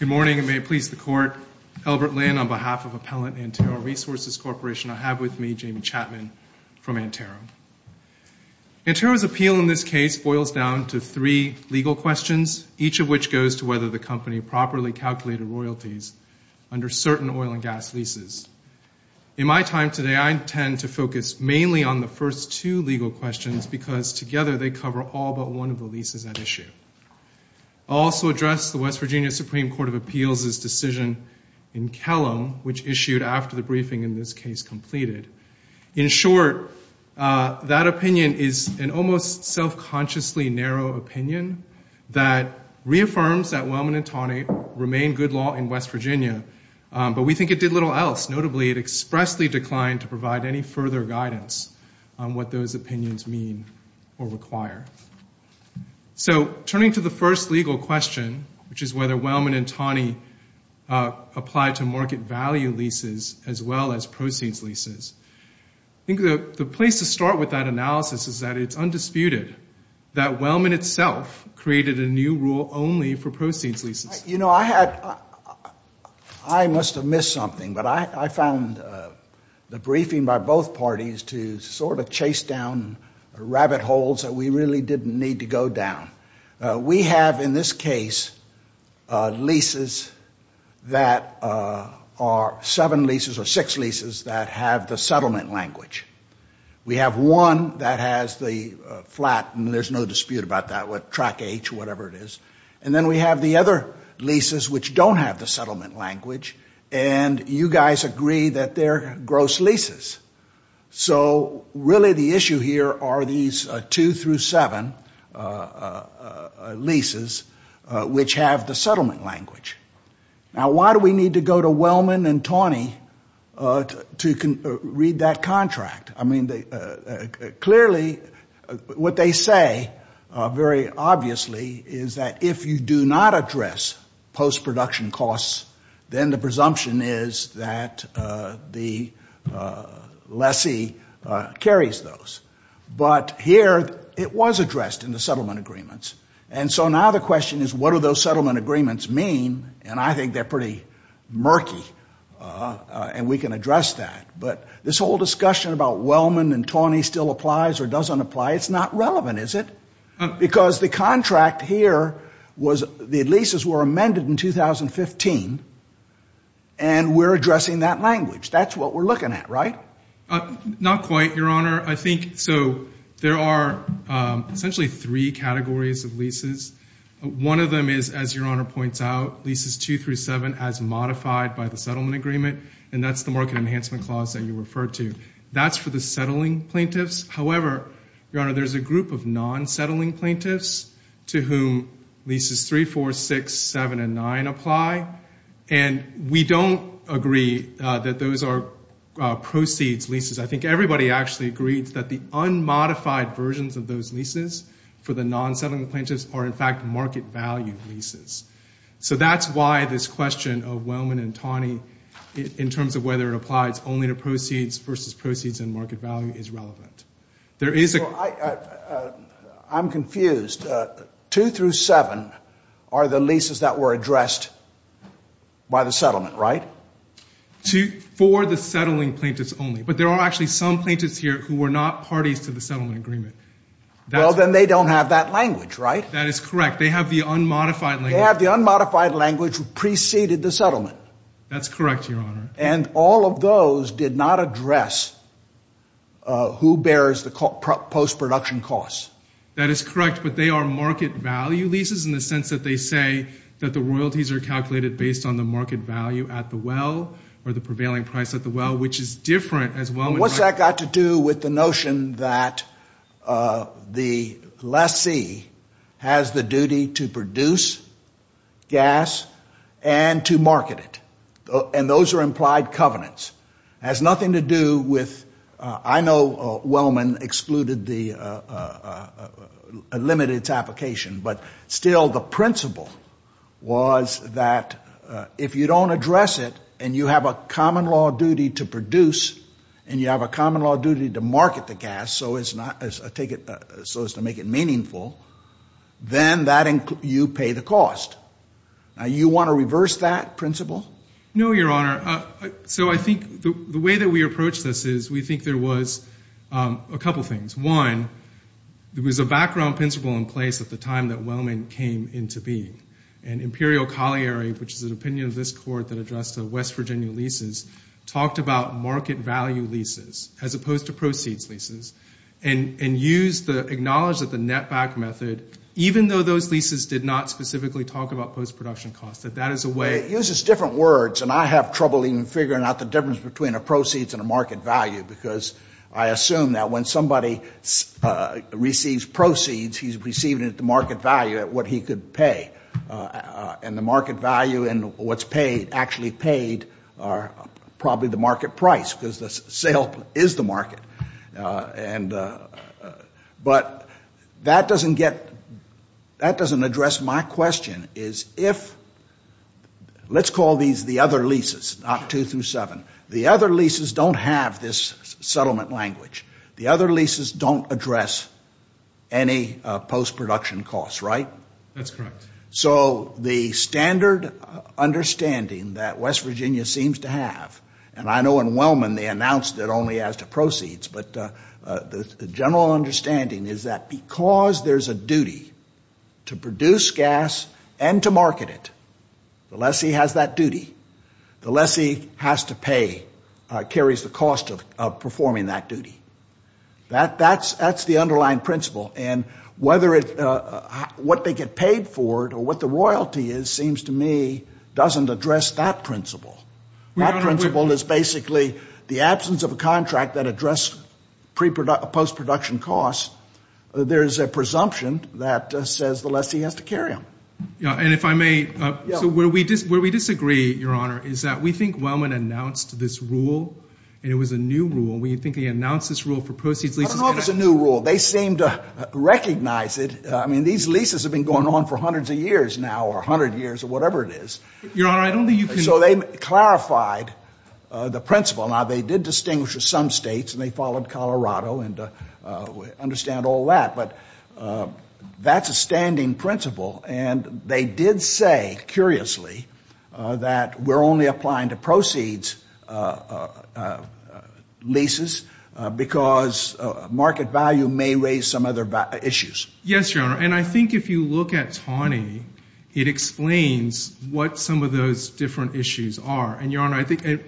Good morning, and may it please the court, Albert Lin on behalf of Appellant Antero Resources Corporation. I have with me, Jamie Chapman from Antero. Antero's appeal in this case boils down to three legal questions, each of which goes to whether the company properly calculated royalties under certain oil and gas leases. In my time today, I intend to focus mainly on the first two legal questions, because together they cover all but one of the leases at issue. I'll also address the West Virginia Supreme Court of Appeals' decision in Kellam, which issued after the briefing in this case completed. In short, that opinion is an almost self-consciously narrow opinion that reaffirms that Wellman & Taney remain good law in West Virginia, but we think it did little else. Notably, it expressly declined to provide any further guidance on what those opinions mean or require. So, turning to the first legal question, which is whether Wellman & Taney applied to market value leases as well as proceeds leases. I think the place to start with that analysis is that it's undisputed that Wellman itself created a new rule only for proceeds leases. You know, I had, I must have missed something, but I found the briefing by both parties to sort of chase down rabbit holes that we really didn't need to go down. We have, in this case, leases that are seven leases or six leases that have the settlement language. We have one that has the flat, and there's no dispute about that, what, Track H, whatever it is, and then we have the other leases which don't have the settlement language, and you guys agree that they're gross leases. So, really, the issue here are these two through seven leases which have the settlement language. Now, why do we need to go to Wellman & Taney to read that contract? I mean, clearly, what they say, very obviously, is that if you do not address post-production costs, then the presumption is that the lessee carries those, but here, it was addressed in the settlement agreements, and so now the question is, what do those settlement agreements mean? And I think they're pretty murky, and we can address that, but this whole discussion about Wellman & Taney still applies or doesn't apply, it's not relevant, is it? Because the contract here was, the leases were amended in 2015, and we're addressing that language. That's what we're looking at, right? Not quite, Your Honor. I think, so there are essentially three categories of leases. One of them is, as Your Honor points out, leases two through seven as modified by the settlement agreement, and that's the market enhancement clause that you referred to. That's for the settling plaintiffs. However, Your Honor, there's a group of non-settling plaintiffs to whom leases three, four, six, seven, and nine apply, and we don't agree that those are proceeds leases. I think everybody actually agrees that the unmodified versions of those leases for the non-settling plaintiffs are, in fact, market value leases. So that's why this question of Wellman & Taney in terms of whether it applies only to proceeds versus proceeds and market value is relevant. There is a... I'm confused. Two through seven are the leases that were addressed by the settlement, right? For the settling plaintiffs only, but there are actually some plaintiffs here who were not parties to the settlement agreement. Well, then they don't have that language, right? That is correct. They have the unmodified language. They have the unmodified language who preceded the settlement. That's correct, Your Honor. And all of those did not address who bears the post-production costs. That is correct, but they are market value leases in the sense that they say that the royalties are calculated based on the market value at the well or the prevailing price at the well, which is different as well. What's that got to do with the notion that the lessee has the duty to produce gas and to market it? And those are implied covenants. It has nothing to do with, I know Wellman excluded the limited application, but still the principle was that if you don't address it and you have a common law duty to produce and you have a common law duty to market the gas so as to make it meaningful, then you pay the cost. Now, you want to reverse that principle? No, Your Honor. So I think the way that we approach this is we think there was a couple of things. One, there was a background principle in place at the time that Wellman came in to be and Imperial Colliery, which is an opinion of this court that addressed the West Virginia leases, talked about market value leases as opposed to proceeds leases and used the acknowledge that the net back method, even though those leases did not specifically talk about post-production costs, that that is a way. It uses different words, and I have trouble even figuring out the difference between a proceeds and a market value because I assume that when somebody receives proceeds, he's received it at the market value at what he could pay. And the market value and what's paid, actually paid are probably the market price because the sale is the market. But that doesn't get, that doesn't address my question is if, let's call these the other leases, not two through seven. The other leases don't have this settlement language. The other leases don't address any post-production costs, right? That's correct. So the standard understanding that West Virginia seems to have, and I know in Wellman they announced that only as to proceeds, but the general understanding is that because there's a duty to produce gas and to market it, the lessee has that duty. The lessee has to pay, carries the cost of performing that duty. That's the underlying principle. And whether it, what they get paid for it or what the royalty is seems to me doesn't address that principle. That principle is basically the absence of a contract that address pre-production, post-production costs. There's a presumption that says the lessee has to carry them. Yeah, and if I may, where we disagree, Your Honor, is that we think Wellman announced this rule and it was a new rule. When you think they announced this rule for proceeds leases- I don't know if it's a new rule. They seem to recognize it. I mean, these leases have been going on for hundreds of years now or a hundred years or whatever it is. Your Honor, I don't think you can- So they clarified the principle. Now they did distinguish some states and they followed Colorado and understand all that, but that's a standing principle. And they did say, curiously, that we're only applying to proceeds leases because market value may raise some other issues. Yes, Your Honor. And I think if you look at Taney, it explains what some of those different issues are. And Your Honor, I think that,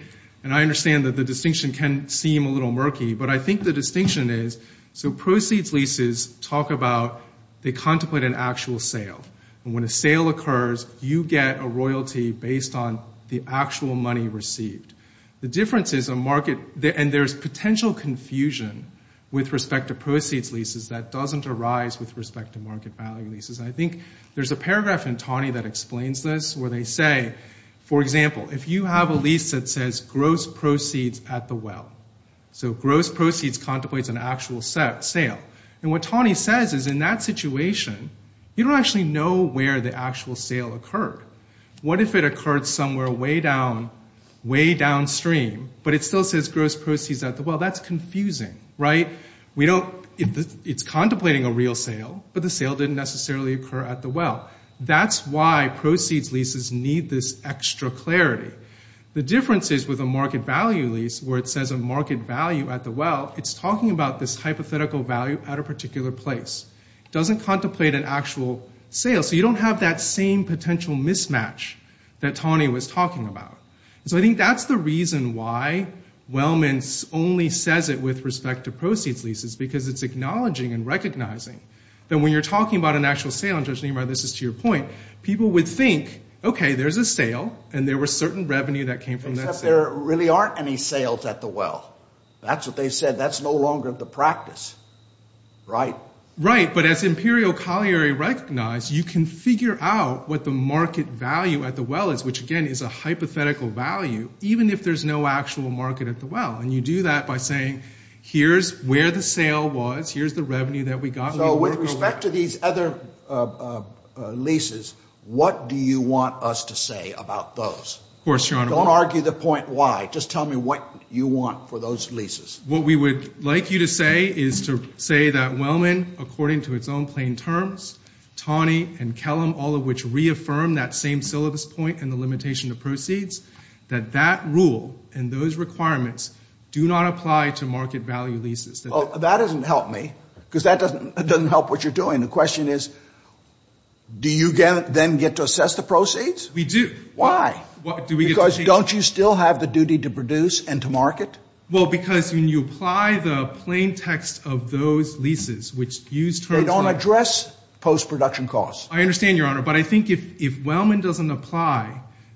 and I understand that the distinction can seem a little murky, but I think the distinction is, so proceeds leases talk about, they contemplate an actual sale. And when a sale occurs, you get a royalty based on the actual money received. The difference is the market, and there's potential confusion with respect to proceeds leases that doesn't arise with respect to market value leases. And I think there's a paragraph in Taney that explains this where they say, for example, if you have a lease that says gross proceeds at the well, so gross proceeds contemplates an actual sale. And what Taney says is in that situation, you don't actually know where the actual sale occurred. What if it occurred somewhere way downstream, but it still says gross proceeds at the well? That's confusing, right? It's contemplating a real sale, but the sale didn't necessarily occur at the well. That's why proceeds leases need this extra clarity. The difference is with a market value lease where it says a market value at the well, it's talking about this hypothetical value at a particular place. It doesn't contemplate an actual sale. So you don't have that same potential mismatch that Taney was talking about. So I think that's the reason why Wellman only says it with respect to proceeds leases because it's acknowledging and recognizing that when you're talking about an actual sale, and Judge Niemeyer, this is to your point, people would think, okay, there's a sale, and there were certain revenue that came from that sale. There really aren't any sales at the well. That's what they said. That's no longer the practice, right? Right, but as Imperial Colliery recognized, you can figure out what the market value at the well is, which again is a hypothetical value, even if there's no actual market at the well. And you do that by saying, here's where the sale was, here's the revenue that we got. So with respect to these other leases, what do you want us to say about those? Of course, Your Honor. Don't argue the point why. Just tell me what you want for those leases. What we would like you to say is to say that Wellman, according to its own plain terms, Taney and Kellum, all of which reaffirm that same syllabus point in the limitation of proceeds, that that rule and those requirements do not apply to market value leases. That doesn't help me because that doesn't help what you're doing. The question is, do you then get to assess the proceeds? We do. Why? Because don't you still have the duty to produce and to market? Well, because when you apply the plain text of those leases, which use terms of- They don't address post-production costs. I understand, Your Honor, but I think if Wellman doesn't apply,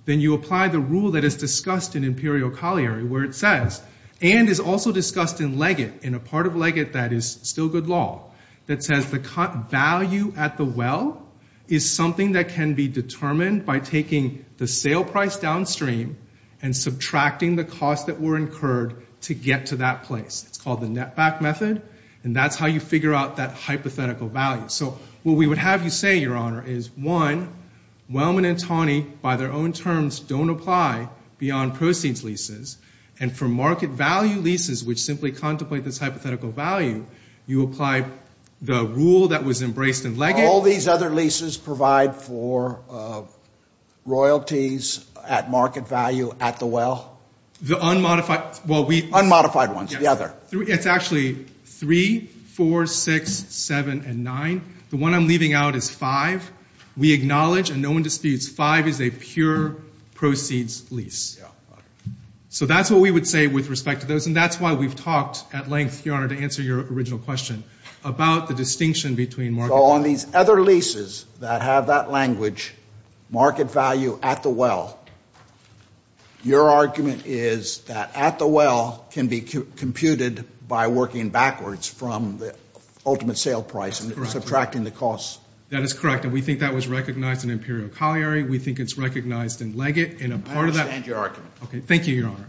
then you apply the rule that is discussed in Imperial Colliery where it says, and is also discussed in Leggett, in a part of Leggett that is still good law, that says the cut value at the well is something that can be determined by taking the sale price downstream and subtracting the cost that were incurred to get to that place. It's called the net back method, and that's how you figure out that hypothetical value. So what we would have you say, Your Honor, is one, Wellman and Taney, by their own terms, don't apply beyond proceeds leases, and for market value leases, which simply contemplate this hypothetical value, you apply the rule that was embraced in Leggett. All these other leases provide for royalties at market value at the well? The unmodified, well, we- Unmodified ones, the other. It's actually three, four, six, seven, and nine. The one I'm leaving out is five. We acknowledge, and no one disputes, five is a pure proceeds lease. So that's what we would say with respect to those, and that's why we've talked at length, Your Honor, to answer your original question about the distinction between market- So on these other leases that have that language, market value at the well, your argument is that at the well can be computed by working backwards from the ultimate sale price and subtracting the costs. That is correct, and we think that was recognized in Imperial Colliery, we think it's recognized in Leggett, and a part of that- Thank you, Your Honor. Thank you, Your Honor.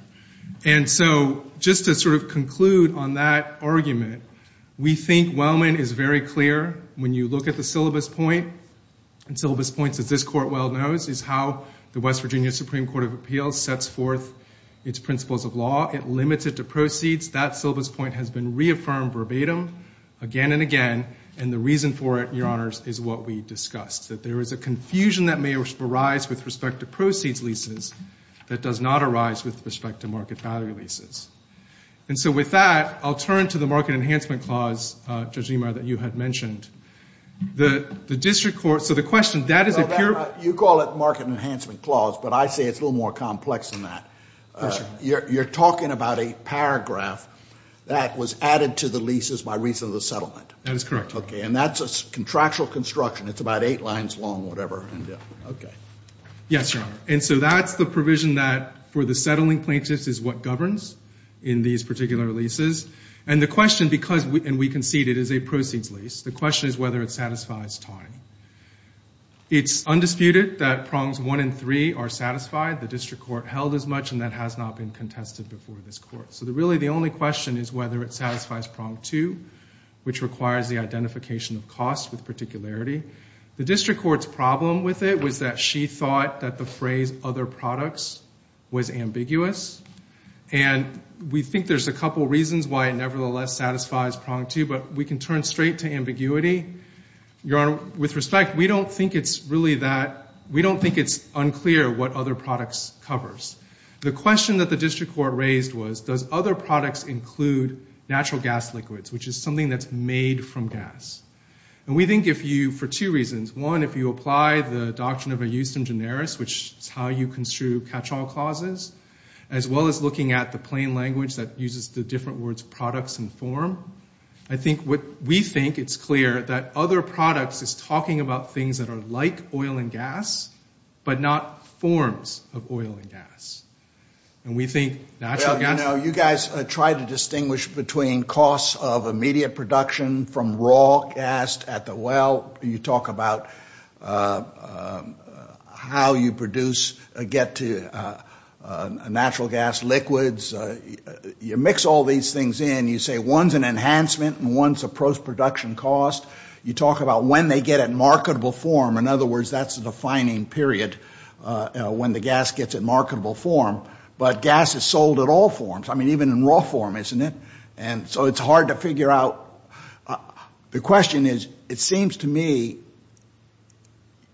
And so, just to sort of conclude on that argument, we think Wellman is very clear when you look at the syllabus point, and syllabus points that this court well knows is how the West Virginia Supreme Court of Appeals sets forth its principles of law. It limits it to proceeds. That syllabus point has been reaffirmed verbatim again and again, and the reason for it, Your Honors, is what we discussed, that there is a confusion that may arise with respect to proceeds leases that does not arise with respect to market value leases. And so with that, I'll turn to the market enhancement clause, Judge Niemeyer, that you had mentioned. The district court, so the question, that is a pure- You call it market enhancement clause, but I say it's a little more complex than that. You're talking about a paragraph that was added to the leases by reason of the settlement. That is correct. Okay, and that's a contractual construction. It's about eight lines long, whatever, okay. Yes, Your Honor, and so that's the provision that for the settling plaintiff is what governs in these particular leases, and the question, because, and we conceded, is a proceeds lease. The question is whether it satisfies time. It's undisputed that prongs one and three are satisfied. The district court held as much, and that has not been contested before this court. So really, the only question is whether it satisfies prong two, which requires the identification of cost with particularity. The district court's problem with it was that she thought that the phrase other products was ambiguous, and we think there's a couple reasons why it nevertheless satisfies prong two, but we can turn straight to ambiguity. Your Honor, with respect, we don't think it's really that, we don't think it's unclear what other products covers. The question that the district court raised was, does other products include natural gas liquids, which is something that's made from gas? And we think if you, for two reasons. One, if you apply the doctrine of a just in generis, which is how you construe catch-all clauses, as well as looking at the plain language that uses the different words products and form, I think what we think, it's clear that other products is talking about things that are like oil and gas, but not forms of oil and gas. And we think that's- Yeah, you know, you guys try to distinguish between costs of immediate production from raw gas at the well. You talk about how you produce, get to natural gas liquids. You mix all these things in, you say one's an enhancement and one's a post-production cost. You talk about when they get at marketable form. In other words, that's the defining period when the gas gets at marketable form, but gas is sold at all forms. I mean, even in raw form, isn't it? And so it's hard to figure out. The question is, it seems to me,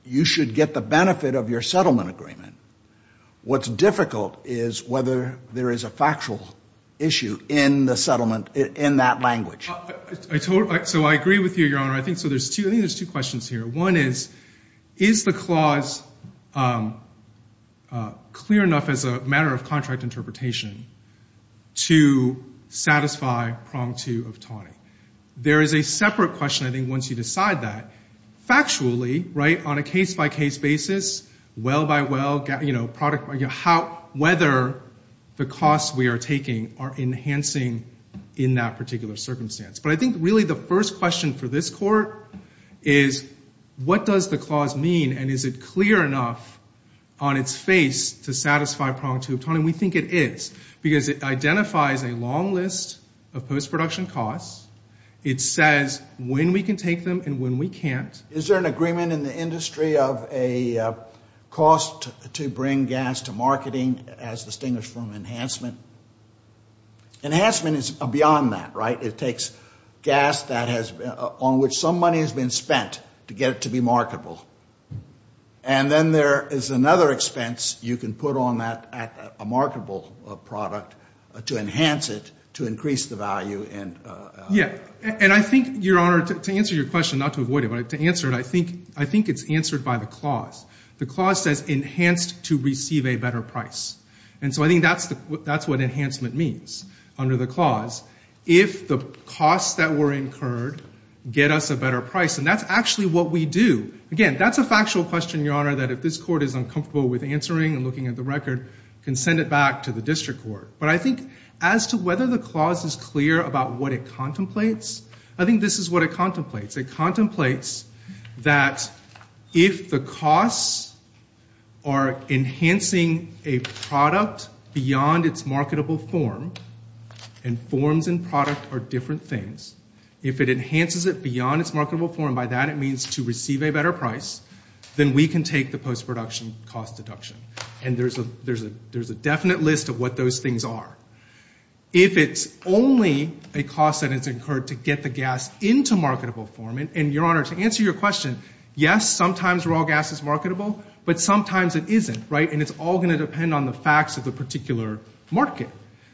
you should get the benefit of your settlement agreement. What's difficult is whether there is a factual issue in the settlement, in that language. So I agree with you, Your Honor. I think there's two questions here. One is, is the clause clear enough as a matter of contract interpretation to satisfy a promptu of time? There is a separate question, I think, once you decide that. Factually, right, on a case-by-case basis, well-by-well, you know, whether the costs we are taking are enhancing in that particular circumstance. But I think really the first question for this court is what does the clause mean? And is it clear enough on its face to satisfy a promptu of time? We think it is. Because it identifies a long list of post-production costs. It says when we can take them and when we can't. Is there an agreement in the industry of a cost to bring gas to marketing as distinguished from enhancement? Enhancement is beyond that, right? It takes gas on which some money has been spent to get it to be marketable. And then there is another expense you can put on that marketable product to enhance it, to increase the value and... Yeah, and I think, Your Honor, to answer your question, not to avoid it, but to answer it, I think it's answered by the clause. The clause says enhanced to receive a better price. And so I think that's what enhancement means under the clause. If the costs that were incurred get us a better price, and that's actually what we do. Again, that's a factual question, Your Honor, that if this court is uncomfortable with answering and looking at the record, can send it back to the district court. But I think as to whether the clause is clear about what it contemplates, I think this is what it contemplates. It contemplates that if the costs are enhancing a product beyond its marketable form, and forms and products are different things, if it enhances it beyond its marketable form, by that it means to receive a better price, then we can take the post-production cost deduction. And there's a definite list of what those things are. If it's only a cost that is incurred to get the gas into marketable form, and Your Honor, to answer your question, yes, sometimes raw gas is marketable, but sometimes it isn't, right? And it's all gonna depend on the facts of the particular market.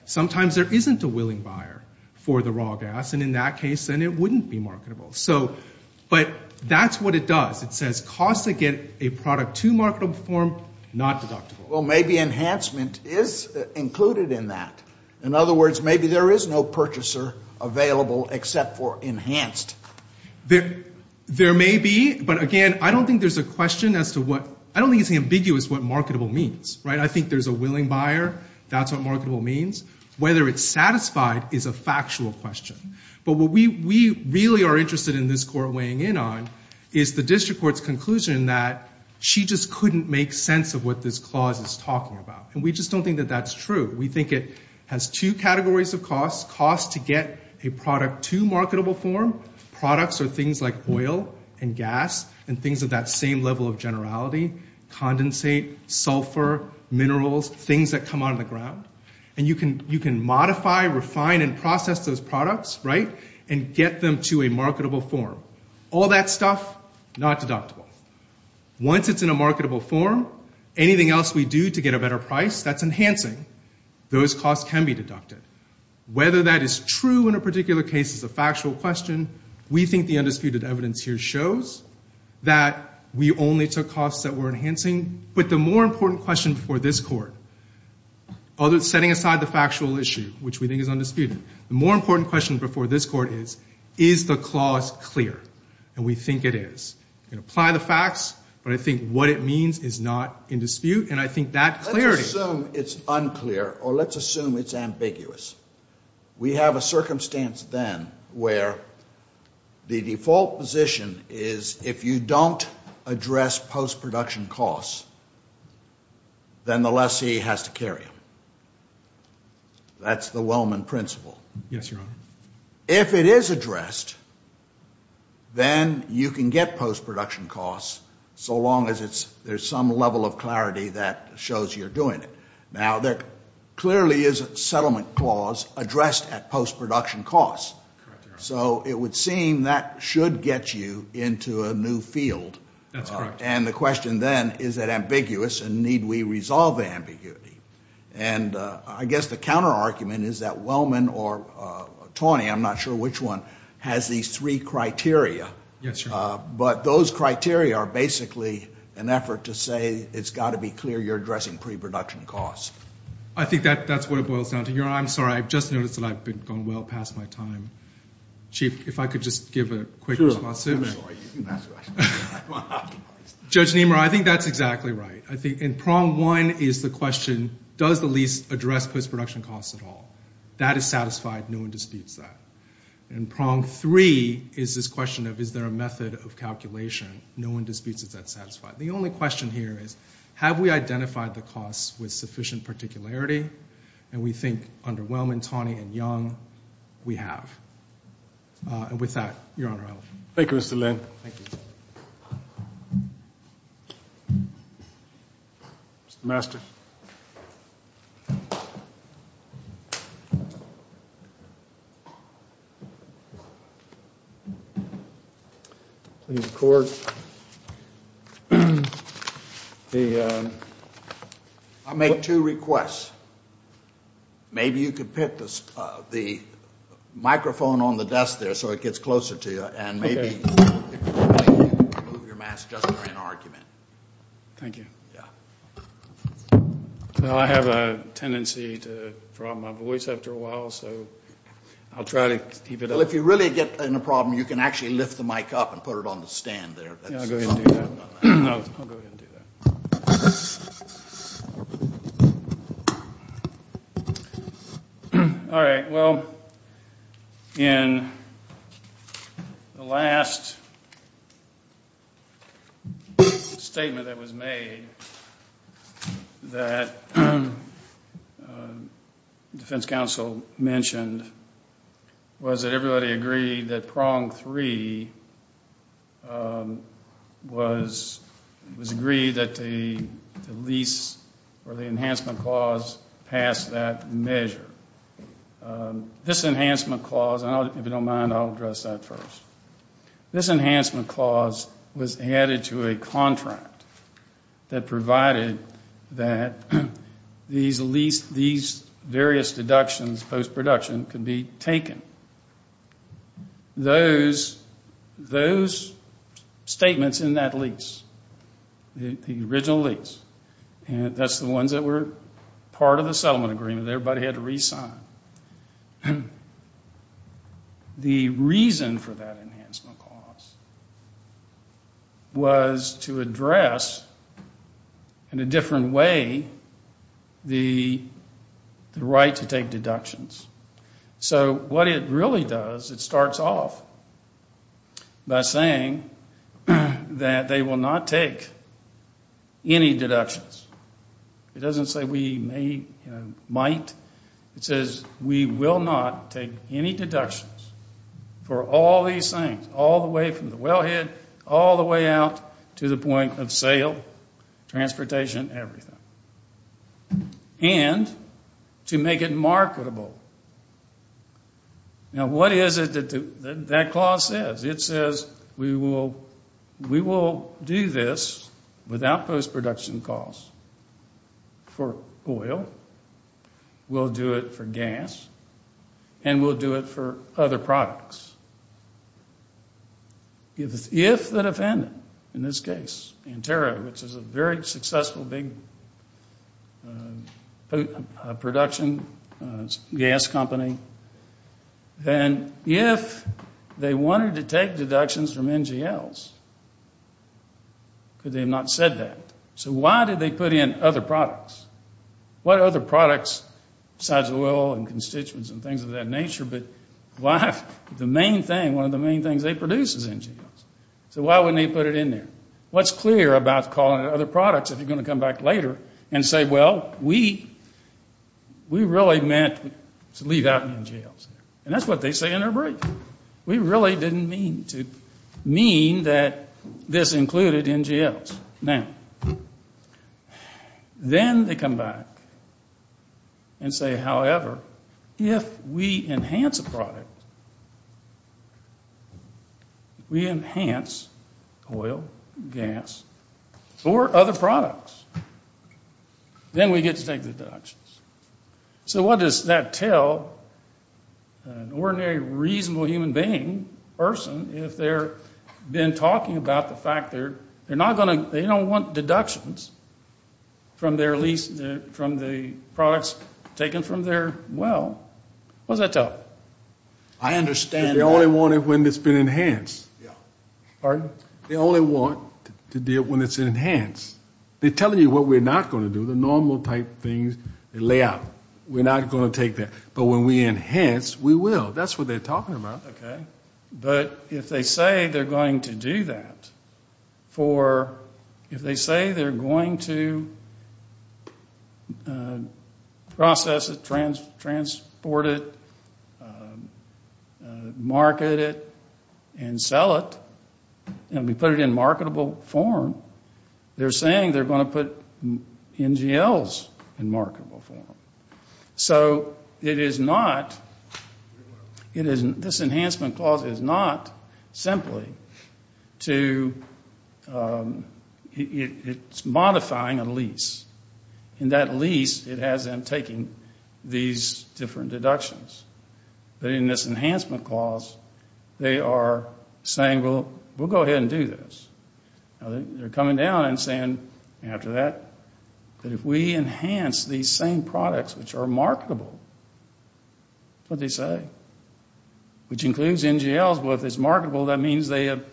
Sometimes there isn't a willing buyer for the raw gas, and in that case, then it wouldn't be marketable. So, but that's what it does. It says, cost to get a product to marketable form, not deductible. Well, maybe enhancement is included in that. In other words, maybe there is no purchaser available except for enhanced. There may be, but again, I don't think there's a question as to what, I don't think it's ambiguous what marketable means, right? I think there's a willing buyer, that's what marketable means. Whether it's satisfied is a factual question. But what we really are interested in this court weighing in on is the district court's conclusion that she just couldn't make sense of what this clause is talking about. And we just don't think that that's true. We think it has two categories of costs. Cost to get a product to marketable form. Products are things like oil and gas, and things of that same level of generality. Condensate, sulfur, minerals, things that come out of the ground. And you can modify, refine, and process those products, right, and get them to a marketable form. All that stuff, not deductible. Once it's in a marketable form, anything else we do to get a better price, that's enhancing, those costs can be deducted. Whether that is true in a particular case is a factual question. We think the undisputed evidence here shows that we only took costs that were enhancing. But the more important question for this court, although setting aside the factual issue, which we think is undisputed, the more important question before this court is, is the clause clear? And we think it is. You can apply the facts, but I think what it means is not in dispute, and I think that clarity. Let's assume it's unclear, or let's assume it's ambiguous. We have a circumstance then where the default position is if you don't address post-production costs, then the lessee has to carry them. That's the Wellman principle. Yes, Your Honor. If it is addressed, then you can get post-production costs so long as there's some level of clarity that shows you're doing it. Now, there clearly is a settlement clause addressed at post-production costs. So it would seem that should get you into a new field. And the question then is that ambiguous, And I guess the counter-argument is that Wellman or Taney, I'm not sure which one, has these three criteria, but those criteria are basically an effort to say it's gotta be clear you're addressing pre-production costs. I think that's what it boils down to. Your Honor, I'm sorry. I just noticed that I've gone well past my time. Chief, if I could just give a quick response here. Sure, go ahead. Judge Nemer, I think that's exactly right. I think in prong one is the question, does the lease address post-production costs at all? That is satisfied. No one disputes that. And prong three is this question of, is there a method of calculation? No one disputes if that's satisfied. The only question here is, have we identified the costs with sufficient particularity? And we think under Wellman, Taney, and Young, we have. And with that, Your Honor. Thank you, Mr. Lin. Master. Master. Please record. I make two requests. Maybe you could put the microphone on the desk there so it gets closer to you, and maybe move your mask just for an argument. Thank you. Yeah. I have a tendency to drop my voice after a while, so I'll try to keep it up. Well, if you really get in a problem, you can actually lift the mic up and put it on the stand there. Yeah, I'll go ahead and do that. I'll go ahead and do that. All right, well, in the last statement that was made, that defense counsel mentioned, was that everybody agreed that prong three was agreed that the lease, or the enhancement clause, passed that measure. This enhancement clause, and if you don't mind, I'll address that first. This enhancement clause was added to a contract that provided that these various deductions, post-production, could be taken. Those statements in that lease, the original lease, and that's the ones that were part of the settlement agreement that everybody had to re-sign. The reason for that enhancement clause was to address, in a different way, the right to take deductions. So what it really does, it starts off by saying that they will not take any deductions. It doesn't say we may, might. It says we will not take any deductions for all these things, all the way from the wellhead, all the way out to the point of sale, transportation, everything. And to make it marketable. Now what is it that that clause says? It says we will do this without post-production costs for oil, we'll do it for gas, and we'll do it for other products. If the defendant, in this case, Ontario, which is a very successful big production, gas company, then if they wanted to take deductions from NGLs, they have not said that. So why did they put in other products? What other products, besides oil and constituents and things of that nature, but why? The main thing, one of the main things they produce is NGLs, so why wouldn't they put it in there? What's clear about calling other products, if you're gonna come back later, and say, well, we really meant to leave out NGLs. And that's what they say in their brief. We really didn't mean to mean that this included NGLs. Now, then they come back and say, however, if we enhance a product, we enhance oil, gas, for other products, then we get to take deductions. So what does that tell an ordinary, reasonable human being, person, if they're been talking about the fact they're not gonna, they don't want deductions from their lease, from the products taken from their well. What does that tell them? I understand that. They only want it when it's been enhanced. Yeah, pardon? They only want to do it when it's enhanced. They're telling you what we're not gonna do, the normal type things they lay out. We're not gonna take that. But when we enhance, we will. That's what they're talking about. Okay. But if they say they're going to do that, for if they say they're going to process it, transport it, market it, and sell it, and we put it in marketable form, they're saying they're gonna put NGLs in marketable form. So it is not, this enhancement clause is not simply to, it's modifying a lease. In that lease, it has them taking these different deductions. But in this enhancement clause, they are saying, well, we'll go ahead and do this. Now, they're coming down and saying after that, that if we enhance these same products, which are marketable, what'd they say? Which includes NGLs, but if it's marketable, that means they have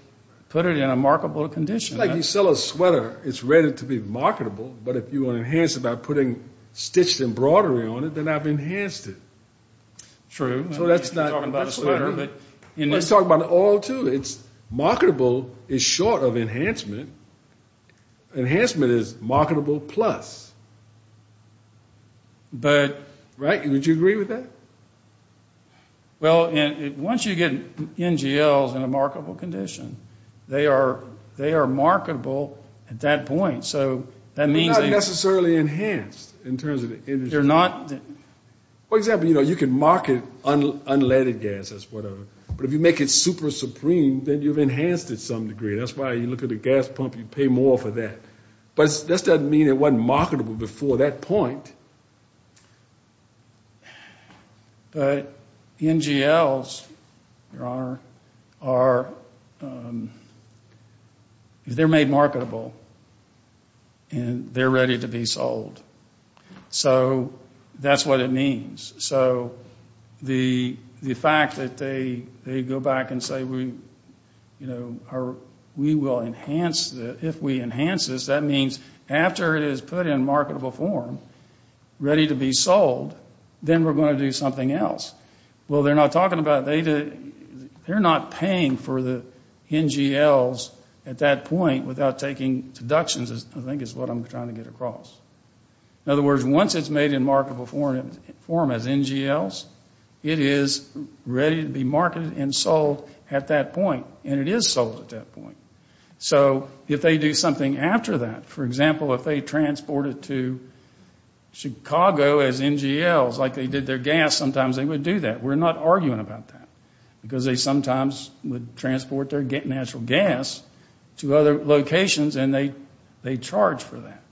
put it in a marketable condition. Like you sell a sweater, it's ready to be marketable, but if you enhance it by putting stitched embroidery on it, then I've enhanced it. True. So that's not. You're talking about a sweater, but. We're talking about all two. It's marketable is short of enhancement. Enhancement is marketable plus. But. Right, would you agree with that? Well, once you get NGLs in a marketable condition, they are marketable at that point. So that means. They're not necessarily enhanced in terms of the industry. They're not. For example, you know, you can market unleaded gases, whatever, but if you make it super supreme, then you've enhanced it some degree. That's why you look at a gas pump, you pay more for that. But that doesn't mean it wasn't marketable before that point. But NGLs are, they're made marketable and they're ready to be sold. So that's what it means. So the fact that they go back and say, you know, we will enhance this. If we enhance this, that means after it is put in marketable form, ready to be sold, then we're going to do something else. Well, they're not talking about. They're not paying for the NGLs at that point without taking deductions, I think, is what I'm trying to get across. In other words, once it's made in marketable form as NGLs, it is ready to be marketed and sold at that point. And it is sold at that point. So if they do something after that, for example, if they transport it to Chicago as NGLs, like they did their gas, sometimes they would do that. We're not arguing about that because they sometimes would transport their natural gas to other locations and they charge for that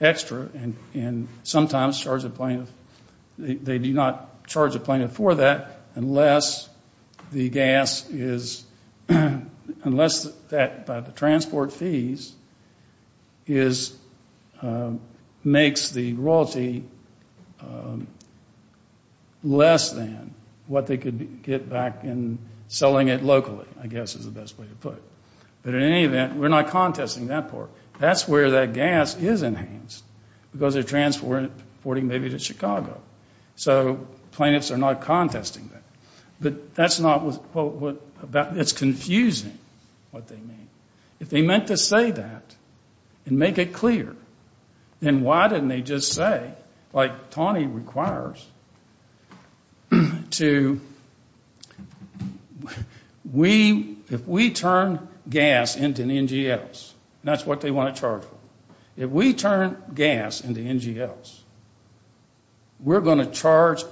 extra and sometimes charge a plaintiff. They do not charge a plaintiff for that unless the gas is, unless the transport fees makes the royalty less than what they could get back in selling it locally, I guess is the best way to put it. But in any event, we're not contesting that part. That's where that gas is enhanced because they're transporting maybe to Chicago. So plaintiffs are not contesting that. But that's not what, it's confusing what they mean. If they meant to say that and make it clear, then why didn't they just say, like Tawny requires, to, if we turn gas into NGLs, that's what they wanna charge. If we turn gas into NGLs, we're gonna charge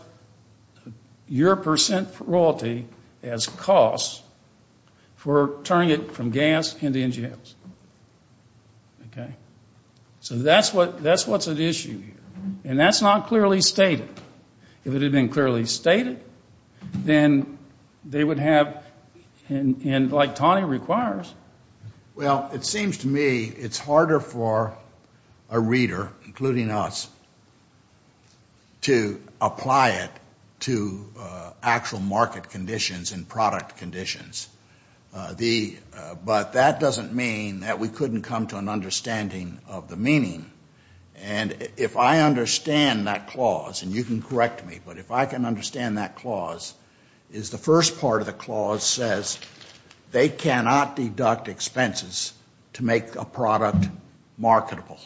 your percent royalty as costs for turning it from gas into NGLs, okay? So that's what's at issue here. And that's not clearly stated. If it had been clearly stated, then they would have, and like Tawny requires. Well, it seems to me it's harder for a reader, including us, to apply it to actual market conditions and product conditions. But that doesn't mean that we couldn't come to an understanding of the meaning. And if I understand that clause, and you can correct me, but if I can understand that clause, is the first part of the clause says, they cannot deduct expenses to make a product marketable.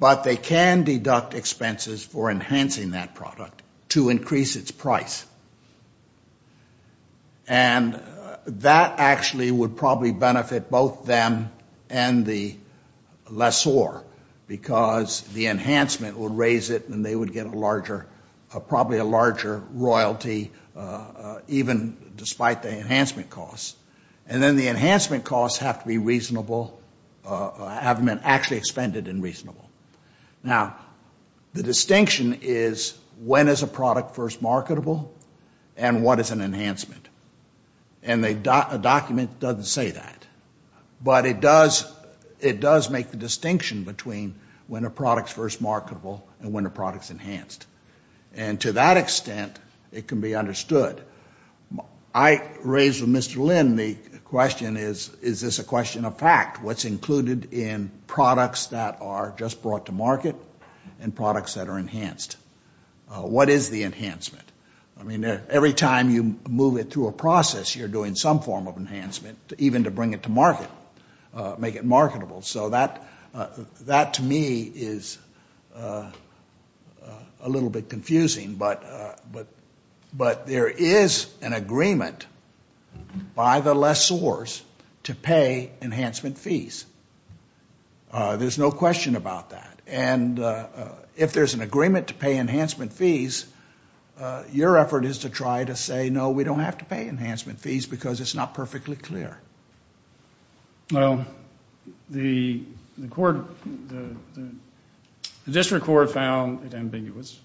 But they can deduct expenses for enhancing that product to increase its price. And that actually would probably benefit both them and the lessor, because the enhancement would raise it and they would get a larger, probably a larger royalty, even despite the enhancement costs. And then the enhancement costs have to be reasonable, have them actually expended and reasonable. Now, the distinction is when is a product first marketable and what is an enhancement? And a document doesn't say that. But it does make the distinction between when a product's first marketable and when a product's enhanced. And to that extent, it can be understood. I raised with Mr. Lin, the question is, is this a question of fact? What's included in products that are just brought to market and products that are enhanced? What is the enhancement? I mean, every time you move it through a process, you're doing some form of enhancement, even to bring it to market, make it marketable. So that to me is a little bit confusing, but there is an agreement by the lessors to pay enhancement fees. There's no question about that. And if there's an agreement to pay enhancement fees, your effort is to try to say, no, we don't have to pay enhancement fees because it's not perfectly clear. Well, the court, the district court found it ambiguous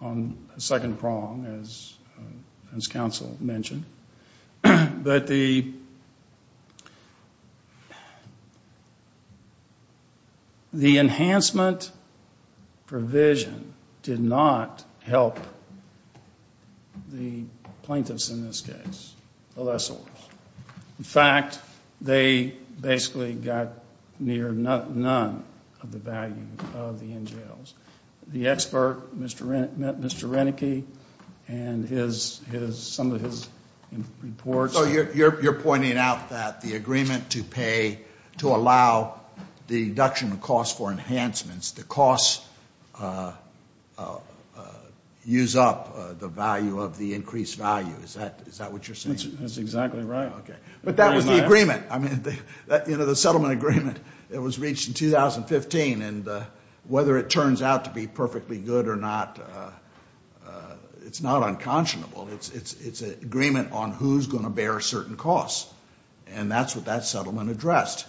on the second prong, as counsel mentioned. But the enhancement provision did not help the plaintiffs in this case, the lessors. In fact, they basically got near none of the value of the NGLs. The expert, Mr. Reneke, and his, some of his reports. So you're pointing out that the agreement to pay, to allow the induction cost for enhancements, the cost use up the value of the increased value. Is that what you're saying? That's exactly right. But that was the agreement. I mean, the settlement agreement, it was reached in 2015. And whether it turns out to be perfectly good or not, it's not unconscionable. It's an agreement on who's going to bear certain costs. And that's what that settlement addressed.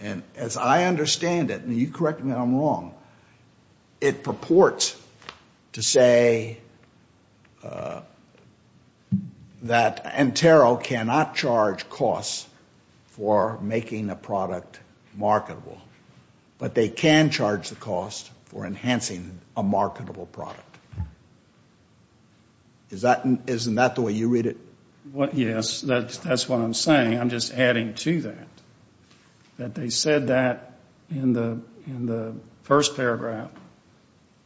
And as I understand it, and you correct me if I'm wrong, it purports to say that Antero cannot charge costs for making a product marketable. But they can charge the cost for enhancing a marketable product. Isn't that the way you read it? Yes, that's what I'm saying. I'm just adding to that. That they said that in the first paragraph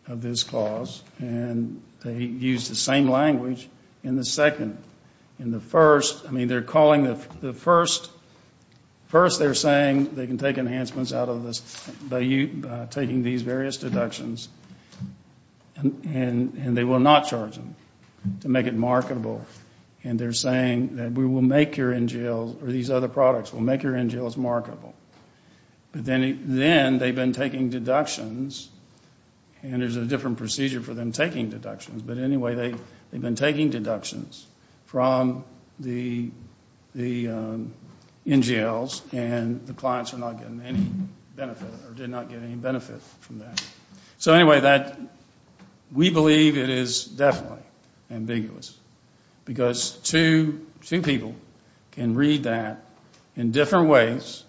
of this clause. And they used the same language in the second. In the first, I mean, they're calling the first, first they're saying they can take enhancements out of this by taking these various deductions. And they will not charge them to make it marketable. And they're saying that we will make your NGL, or these other products, we'll make your NGLs marketable. But then they've been taking deductions. And there's a different procedure for them taking deductions. But anyway, they've been taking deductions from the NGLs. And the clients are not getting any benefit, or did not get any benefit from that. So anyway, we believe it is definitely ambiguous. Because two people can read that in different ways.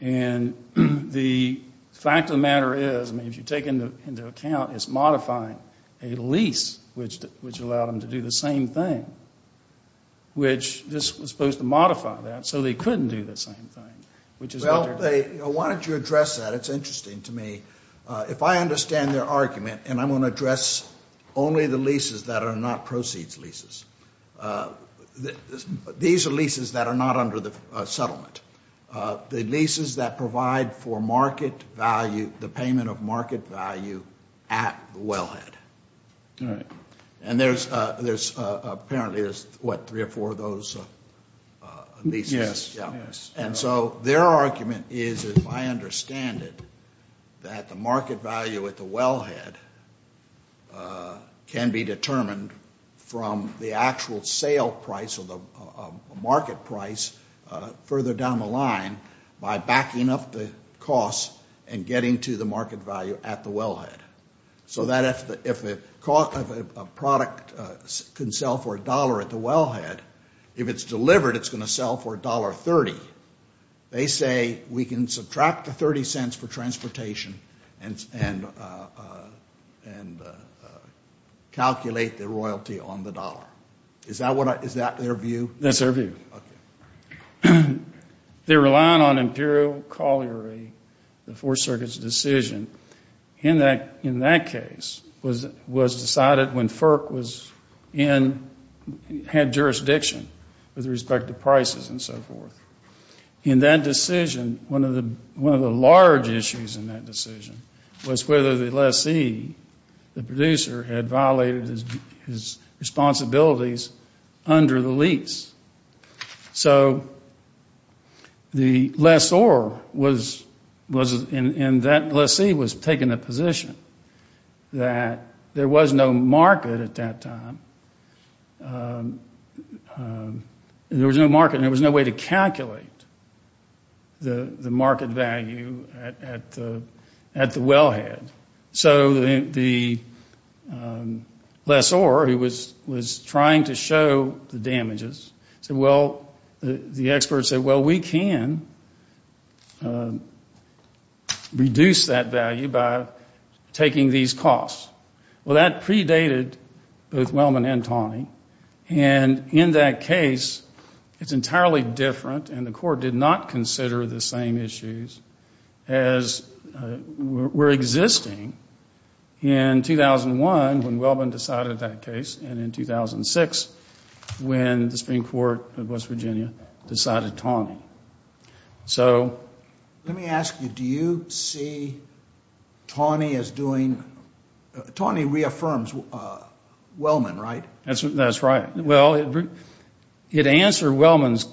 And the fact of the matter is, if you take into account, it's modifying a lease, which allowed them to do the same thing. Which, this was supposed to modify that, so they couldn't do the same thing. Well, why don't you address that? It's interesting to me. If I understand their argument, and I'm talking about proceeds leases, these are leases that are not under the settlement. They're leases that provide for the payment of market value at the wellhead. And apparently, there's three or four of those leases. And so their argument is, if I understand it, that the market value at the wellhead can be determined from the actual sale price, or the market price, further down the line, by backing up the cost and getting to the market value at the wellhead. So that if a product can sell for $1 at the wellhead, if it's delivered, it's going to sell for $1.30. They say, we can subtract the $0.30 for transportation and calculate the royalty on the dollar. Is that their view? That's their view. They're relying on imperial colliery, the Fourth Circuit's decision, in that case, was decided when FERC was in, had jurisdiction with respect to prices and so forth. In that decision, one of the large issues in that decision was whether the lessee, the producer, had violated his responsibilities under the lease. So the lessor in that lessee was taking a position that there was no market at that time. There was no market, and there was no way to calculate the market value at the wellhead. So the lessor, who was trying to show the damages, said, well, the experts said, well, we can reduce that value by taking these costs. Well, that predated with Wellman and Taney. And in that case, it's entirely different, and the court did not consider the same issues as were existing in 2001, when Wellman decided that case, and in 2006, when the Supreme Court of West Virginia decided Taney. So let me ask you, do you see Taney as doing, Taney reaffirms Wellman, right? That's right. Well, it answered Wellman's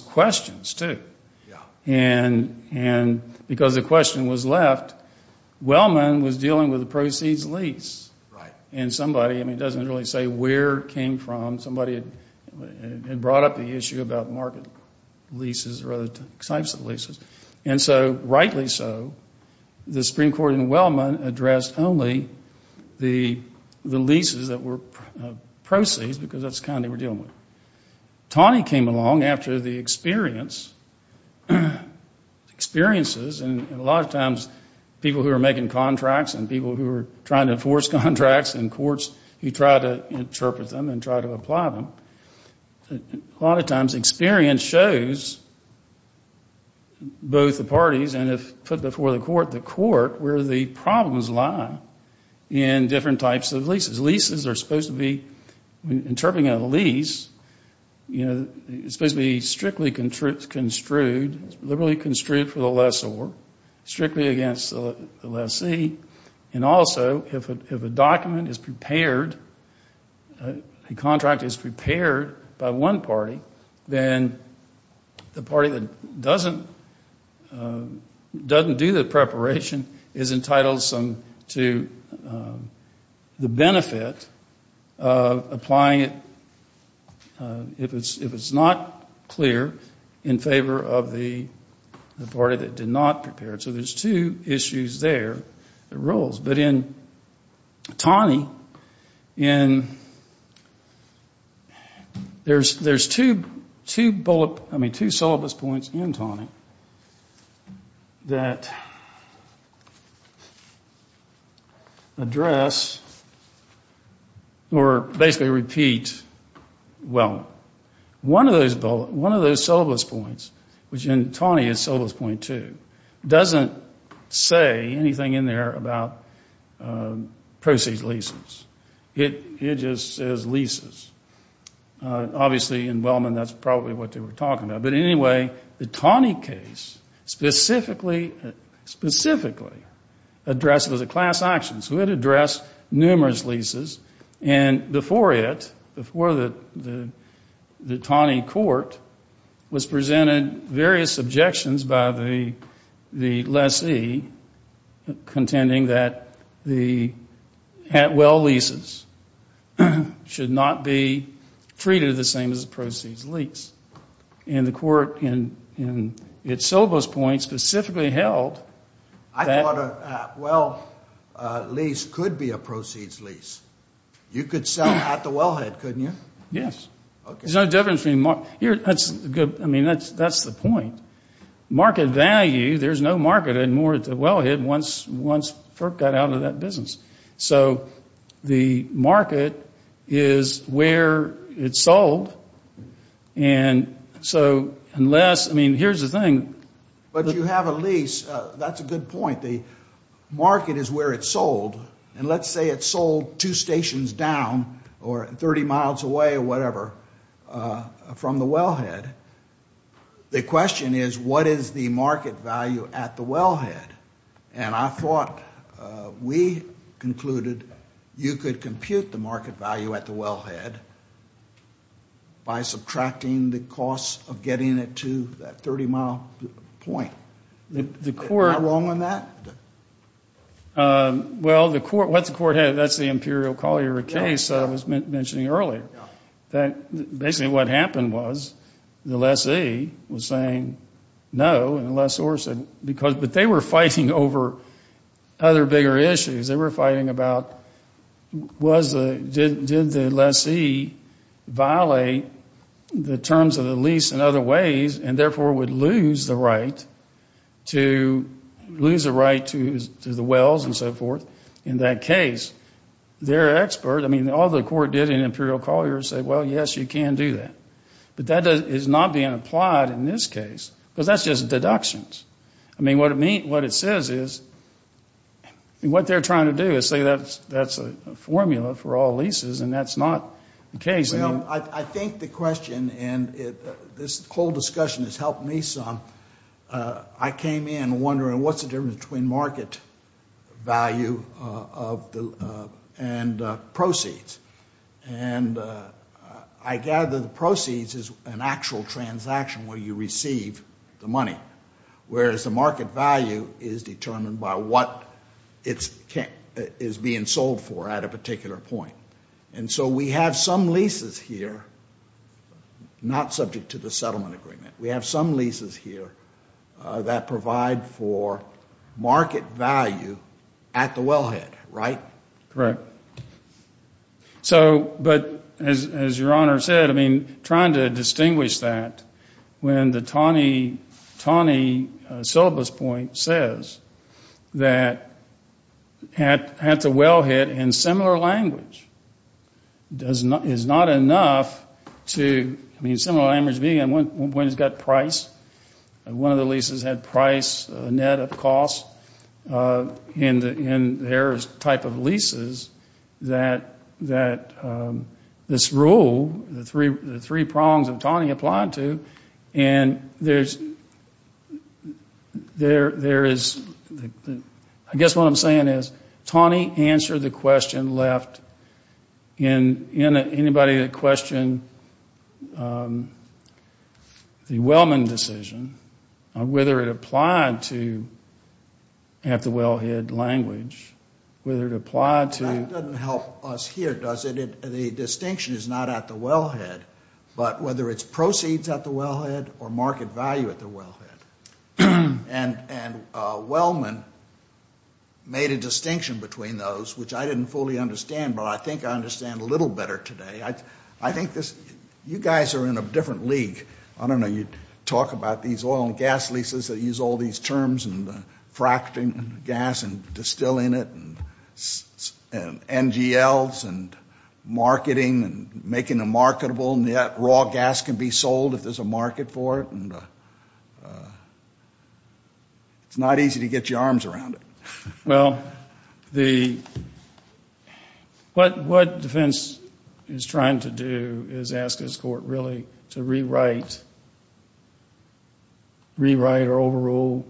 questions, too. And because the question was left, Wellman was dealing with a proceeds lease. And somebody, I mean, it doesn't really say where it came from. Somebody had brought up the issue about market leases or other types of leases. And so, rightly so, the Supreme Court in Wellman addressed only the leases that were proceeds, because that's the kind they were dealing with. Taney came along after the experiences. And a lot of times, people who are making contracts and people who are trying to enforce contracts in courts, you try to interpret them and try to apply them. A lot of times, experience shows both the parties and if put before the court, the court, where the problems lie in different types of leases. Leases are supposed to be, interpreting a lease, it's supposed to be strictly construed, literally construed for the lessor, strictly against the lessee. And also, if a document is prepared, the contract is prepared by one party, then the party that doesn't do the preparation is entitled to the benefit of applying it if it's not clear in favor of the party that did not prepare it. So there's two issues there, the rules. But in Taney, there's two syllabus points in Taney that address or basically repeat Wellman. One of those syllabus points, which in Taney is syllabus point two, doesn't say anything in there about proceeds leases. It just says leases. Obviously, in Wellman, that's probably what they were talking about. But anyway, the Taney case specifically addressed with a class action. So it addressed numerous leases. And before it, before the Taney court was presented various objections by the lessee contending that the at-well leases should not be treated the same as proceeds lease. And the court, in its syllabus point, specifically held that at-well lease could be a proceeds lease. You could sell out the wellhead, couldn't you? Yes. There's no difference between mark. I mean, that's the point. Market value, there's no market anymore at the wellhead once FERP got out of that business. So the market is where it's sold. And so unless, I mean, here's the thing. But you have a lease, that's a good point. The market is where it's sold. And let's say it's sold two stations down or 30 miles away or whatever from the wellhead. The question is, what is the market value at the wellhead? And I thought we concluded you could compute the market value at the wellhead by subtracting the cost of getting it to that 30-mile point. The court. Am I wrong on that? Well, what the court had, that's the Imperial Collier case I was mentioning earlier. That basically what happened was the lessee was saying no. And the lessor said, but they were fighting over other bigger issues. They were fighting about did the lessee violate the terms of the lease in other ways and therefore would lose the right to the wells and so forth in that case. They're experts. I mean, all the court did in Imperial Collier is say, well, yes, you can do that. But that is not being applied in this case. But that's just deductions. I mean, what it says is what they're trying to do is say that's a formula for all leases. And that's not the case. I think the question, and this whole discussion has helped me some, I came in wondering what's the difference between market value and proceeds. And I gather the proceeds is an actual transaction where you receive the money, whereas the market value is determined by what is being sold for at a particular point. And so we have some leases here not subject to the settlement agreement. We have some leases here that provide for market value at the wellhead, right? Correct. So, but as your honor said, I mean, trying to distinguish that when the Taney syllabus point says that at the wellhead in similar language is not enough to, I mean, similar language being when he's got price. One of the leases had price, net of cost. And there's a type of leases that this rule, the three prongs of Taney applied to. And there is, I guess what I'm saying is Taney answered the question left. And anybody that questioned the Wellman decision, whether it applied to at the wellhead language, whether it applied to- That doesn't help us here, does it? The distinction is not at the wellhead, but whether it's proceeds at the wellhead or market value at the wellhead. And Wellman made a distinction between those, which I didn't fully understand. But I think I understand a little better today. I think you guys are in a different league. I don't know, you talk about these oil and gas leases that use all these terms, and fracturing gas, and distilling it, and NGLs, and marketing, and making them marketable, and yet raw gas can be sold if there's a market for it. And it's not easy to get your arms around it. Well, what defense is trying to do is ask this court really to rewrite or overrule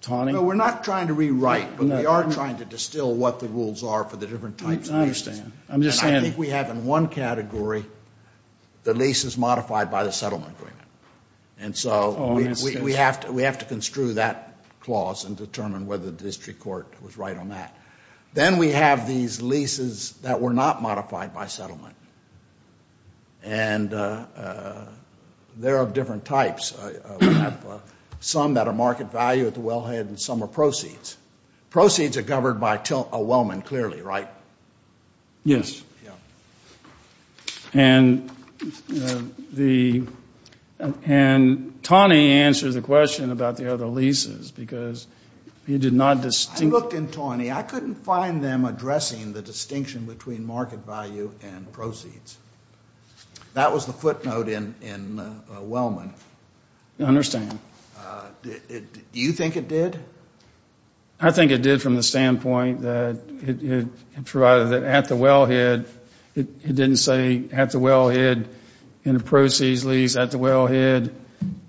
Taney? No, we're not trying to rewrite, but we are trying to distill what the rules are for the different types of leases. I'm just saying if we have in one category the leases modified by the settlement agreement. And so we have to construe that clause and determine whether the district court was right on that. Then we have these leases that were not modified by settlement. And there are different types. Some that are market value at the wellhead, and some are proceeds. Proceeds are governed by a Wellman, clearly, right? Yes. And Taney answered the question about the other leases, because he did not distinguish. I looked in Taney. I couldn't find them addressing the distinction between market value and proceeds. That was the footnote in Wellman. I understand. Do you think it did? I think it did from the standpoint that it provided that at the wellhead, it didn't say at the wellhead in a proceeds lease, at the wellhead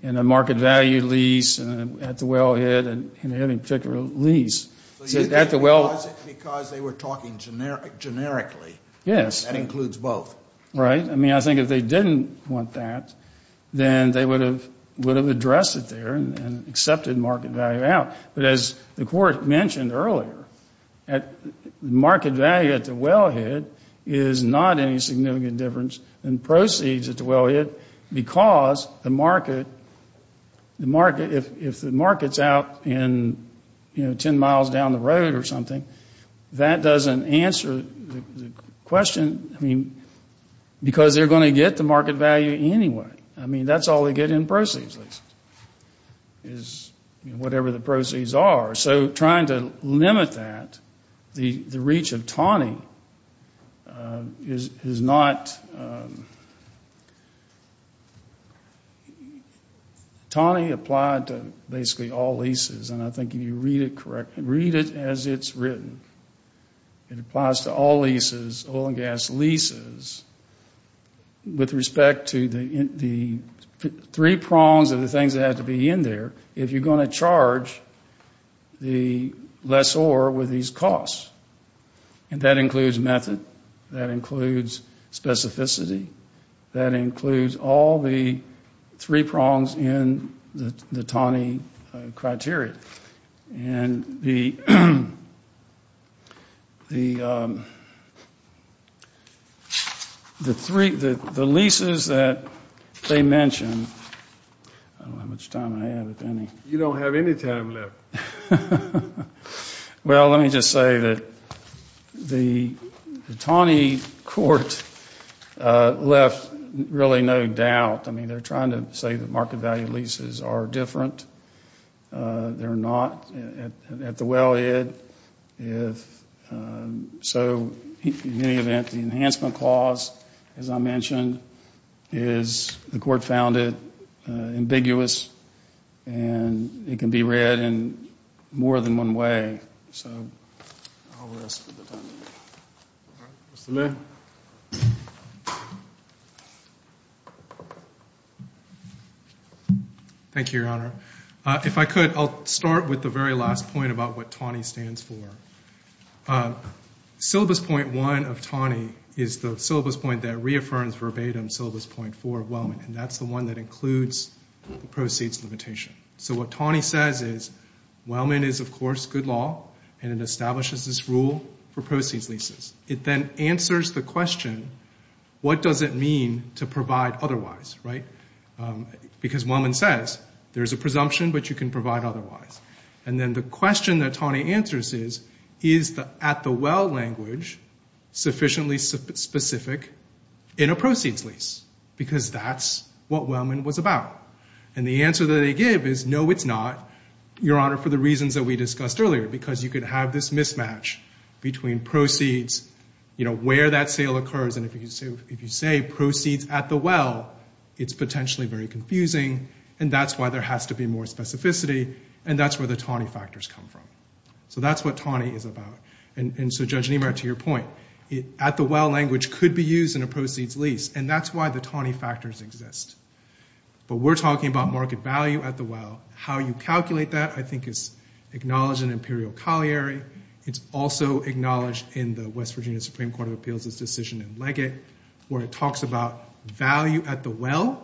in a market value lease, at the wellhead in any particular lease. At the wellhead. Because they were talking generically. Yes. That includes both. Right. I mean, I think if they didn't want that, then they would have addressed it there and accepted market value out. But as the court mentioned earlier, market value at the wellhead is not any significant difference than proceeds at the wellhead, because if the market's out 10 miles down the road or something, that doesn't answer the question, because they're going to get the market value anyway. I mean, that's all they get in proceeds leases, whatever the proceeds are. So trying to limit that, the reach of Taney, is not Taney applied to basically all leases. And I think if you read it correctly, read it as it's written, it applies to all leases, oil and gas leases, with respect to the three prongs of the things that have to be in there, if you're going to charge the lessor with these costs. And that includes the cost of the leases. That includes method. That includes specificity. That includes all the three prongs in the Taney criteria. And the leases that they mentioned, I don't know how much time I have at the end. You don't have any time left. Well, let me just say that the Taney court left really no doubt. I mean, they're trying to say that market value leases are different. They're not at the wellhead. So in any event, the enhancement clause, as I mentioned, is, the court found it, ambiguous. And it can be read in more than one way. So I'll rest for the time being. Mr. May? Thank you, Your Honor. If I could, I'll start with the very last point about what Taney stands for. Syllabus 0.1 of Taney is the syllabus point that reaffirms verbatim syllabus 0.4 of Wellman. And that's the one that includes the proceeds limitation. So what Taney says is, Wellman is, of course, good law. And it establishes this rule for proceeds leases. It then answers the question, what does it mean to provide otherwise? Because Wellman says, there is a presumption, but you can provide otherwise. And then the question that Taney answers is, is the at-the-well language sufficiently specific in a proceeds lease? Because that's what Wellman was about. And the answer that they give is, no, it's not, Your Honor, for the reasons that we discussed earlier. Because you could have this mismatch between proceeds, where that sale occurs. And if you say, proceeds at the well, it's potentially very confusing. And that's why there has to be more specificity. And that's where the Taney factors come from. So that's what Taney is about. And so, Judge Niemeyer, to your point, at-the-well language could be used in a proceeds lease. And that's why the Taney factors exist. But we're talking about market value at the well. How you calculate that, I think, is acknowledged in Imperial Colliery. It's also acknowledged in the West Virginia Supreme Court of Appeals' decision in Leggett, where it talks about value at the well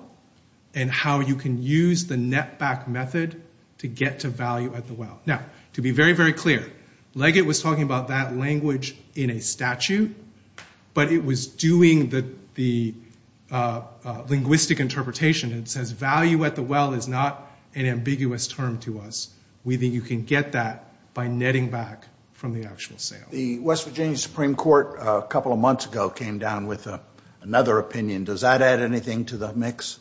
and how you can use the net-back method to get to value at the well. Now, to be very, very clear, Leggett was talking about that language in a statute. But it was doing the linguistic interpretation. It says, value at the well is not an ambiguous term to us. We think you can get that by netting back from the actual sale. The West Virginia Supreme Court, a couple of months ago, came down with another opinion. Does that add anything to the mix?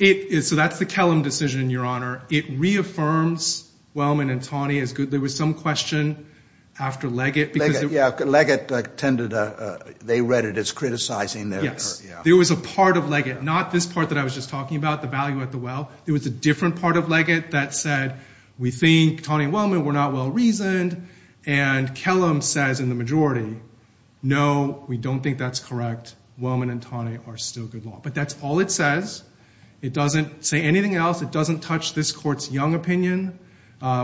So that's the Kellum decision, Your Honor. It reaffirms Wellman and Taney as good. So there was some question after Leggett. Yeah, Leggett tended to, they read it as criticizing this. There was a part of Leggett, not this part that I was just talking about, the value at the well. It was a different part of Leggett that said, we think Taney and Wellman were not well-reasoned. And Kellum says in the majority, no, we don't think that's correct. Wellman and Taney are still good law. But that's all it says. It doesn't say anything else. It doesn't touch this court's young opinion,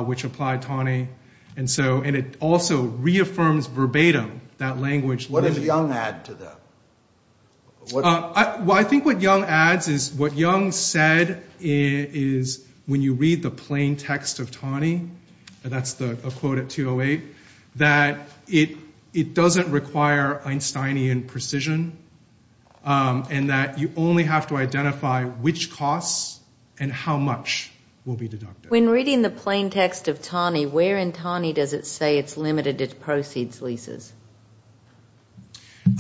which applied Taney. And it also reaffirms verbatim that language. What does Young add to that? Well, I think what Young adds is what Young said is when you read the plain text of Taney, that's the quote at 208, that it doesn't require Einsteinian precision. And that you only have to identify which costs and how much will be deducted. When reading the plain text of Taney, where in Taney does it say it's limited to proceeds leases?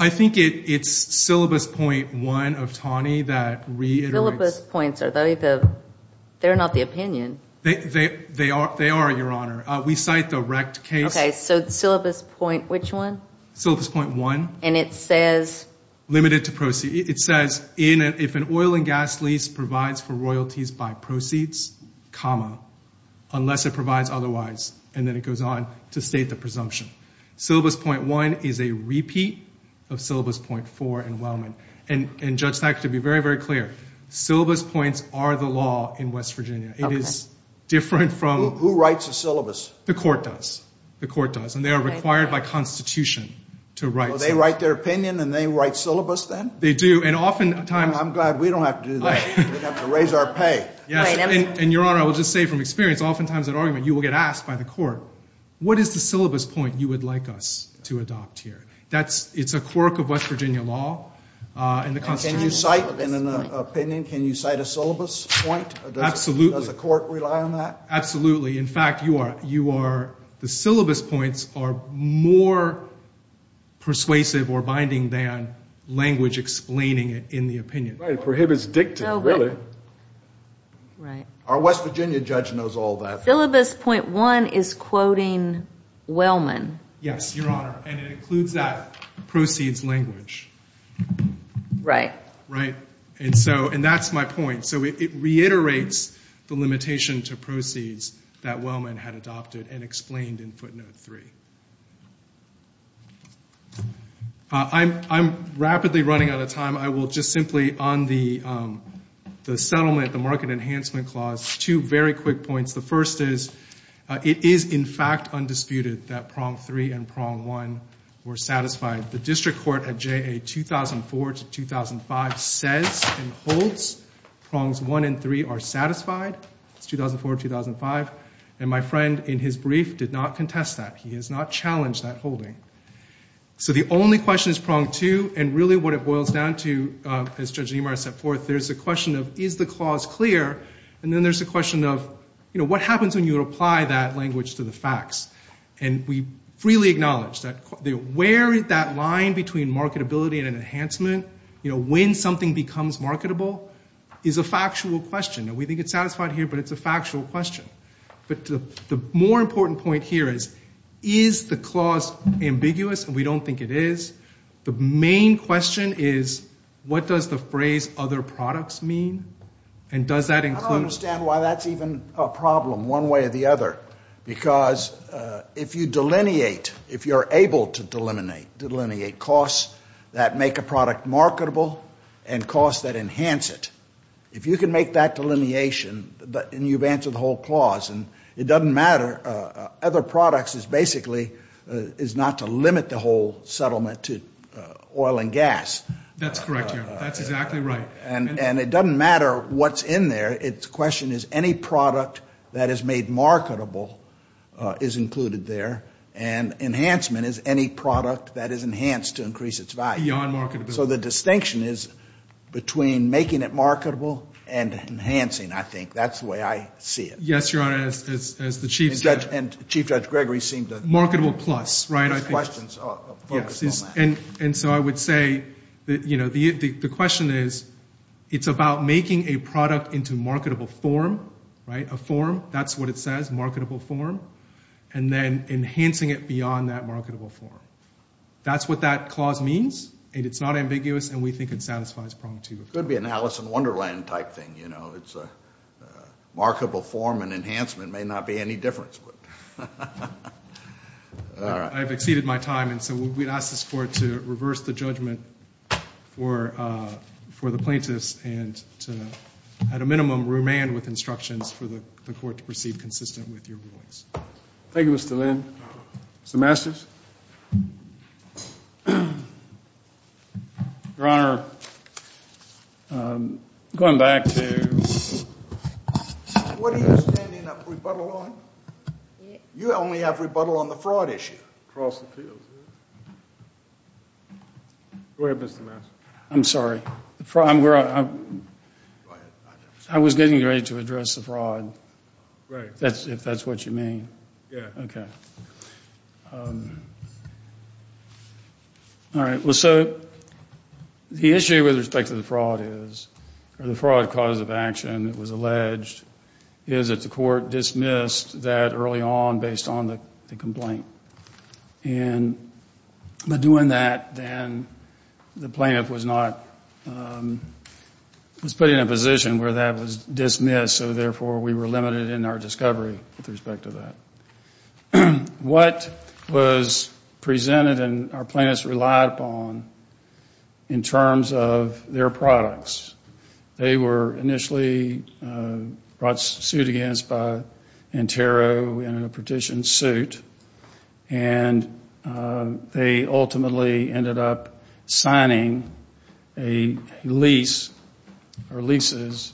I think it's syllabus point one of Taney that reiterates. Syllabus points, they're not the opinion. They are, Your Honor. We cite the rect case. OK, so syllabus point which one? Syllabus point one. And it says? Limited to proceeds. It says, if an oil and gas lease provides for royalties by proceeds, comma, unless it provides otherwise. And then it goes on to state the presumption. Syllabus point one is a repeat of syllabus point four in Wellman. And Judge Fax, to be very, very clear, syllabus points are the law in West Virginia. It is different from? Who writes the syllabus? The court does. The court does. And they are required by Constitution to write. So they write their opinion and they write syllabus then? They do. And oftentimes, I'm glad we don't have to do that. We have to raise our pay. And Your Honor, I will just say from experience, oftentimes in an argument, you will get asked by the court, what is the syllabus point you would like us to adopt here? It's a quirk of West Virginia law. Can you cite an opinion? Can you cite a syllabus point? Absolutely. Does the court rely on that? Absolutely. In fact, you are. The syllabus points are more persuasive or binding than language explaining it in the opinion. It prohibits dictum, really. Right. Our West Virginia judge knows all that. Syllabus point one is quoting Wellman. Yes, Your Honor. And it includes that proceeds language. Right. Right. And so, and that's my point. So it reiterates the limitation to proceeds that Wellman had adopted and explained in footnote three. I'm rapidly running out of time. I will just simply on the settlement, the market enhancement clause, two very quick points. The first is, it is in fact undisputed that prong three and prong one were satisfied. The district court of JAA 2004 to 2005 says and holds, prongs one and three are satisfied, 2004, 2005. And my friend in his brief did not contest that. He has not challenged that holding. So the only question is prong two. And really what it boils down to, as Judge Niemeyer set forth, there's a question of, is the clause clear? And then there's a question of, what happens when you apply that language to the facts? And we freely acknowledge that where is that line between marketability and enhancement? When something becomes marketable is a factual question. And we think it's satisfied here, but it's a factual question. But the more important point here is, is the clause ambiguous? We don't think it is. The main question is, what does the phrase other products mean? And does that include? I don't understand why that's even a problem, one way or the other. Because if you delineate, if you're able to delineate costs that make a product marketable and costs that enhance it, if you can make that delineation and you've answered the whole clause and it doesn't matter, other products is basically, is not to limit the whole settlement to oil and gas. That's correct. That's exactly right. And it doesn't matter what's in there. It's question is, any product that is made marketable is included there. And enhancement is any product that is enhanced to increase its value. So the distinction is between making it marketable and enhancing, I think. That's the way I see it. Yes, Your Honor. And Chief Judge Gregory seemed to have said it. Plus, right? I think questions are a plus. And so I would say that the question is, it's about making a product into marketable form, right? A form. That's what it says, marketable form. And then enhancing it beyond that marketable form. That's what that clause means. And it's not ambiguous. And we think it satisfies problem two. Could be an Alice in Wonderland type thing, you know? It's a marketable form and enhancement may not be any different. I've exceeded my time. And so we'd ask this court to reverse the judgment for the plaintiffs and to, at a minimum, remain with instructions for the court to proceed consistent with your rulings. Thank you, Mr. Lynn. Mr. Masters? Your Honor, going back to what are you standing up rebuttal on? You only have rebuttal on the fraud issue. I'm sorry. I was getting ready to address the fraud, if that's what you mean. All right. So the issue with respect to the fraud is, or the fraud cause of action, it was alleged, is that the court dismissed that early on based on the complaint. And by doing that, then the plaintiff was not put in a position where that was dismissed. So therefore, we were limited in our discovery with respect to that. What was presented and our plaintiffs relied upon in terms of their products? They were initially brought to suit against by Interro in a petition suit. And they ultimately ended up signing a lease or leases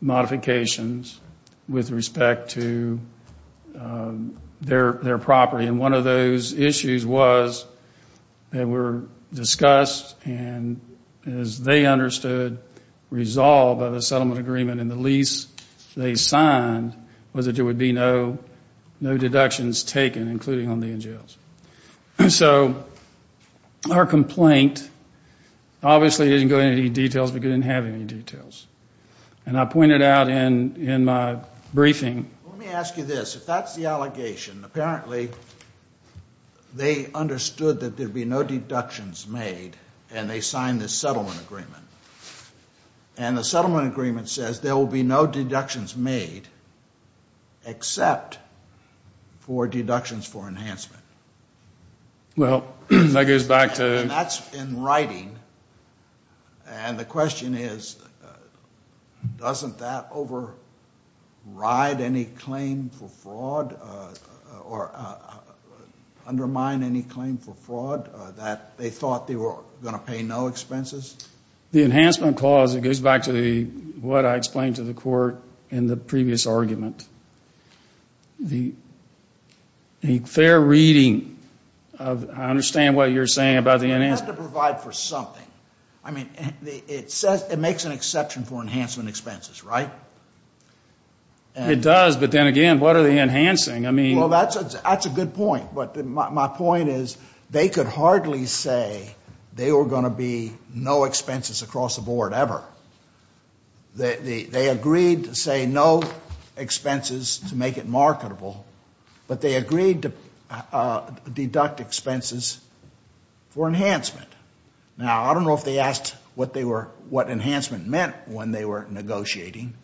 modifications with respect to their property. And one of those issues was they were discussed. And as they understood, resolved by the settlement agreement and the lease they signed, was that there would be no deductions taken, including on the in-jails. So our complaint obviously didn't go into any details, but didn't have any details. And I pointed out in my briefing. Let me ask you this. If that's the allegation, apparently they understood that there'd be no deductions made, and they signed this settlement agreement. And the settlement agreement says there will be no deductions made except for deductions for enhancement. Well, that goes back to. That's in writing. And the question is, doesn't that override any claim for fraud, or undermine any claim for fraud that they thought they were going to pay no expenses? The enhancement clause, it goes back to what I explained to the court in the previous argument. The fair reading of, I understand what you're saying about the enhancement. It has to provide for something. I mean, it makes an exception for enhancement expenses, right? It does, but then again, what are they enhancing? I mean. Well, that's a good point. But my point is, they could hardly say they were going to be no expenses across the board ever. They agreed to say no expenses to make it marketable, but they agreed to deduct expenses for enhancement. Now, I don't know if they asked what enhancement meant when they were negotiating.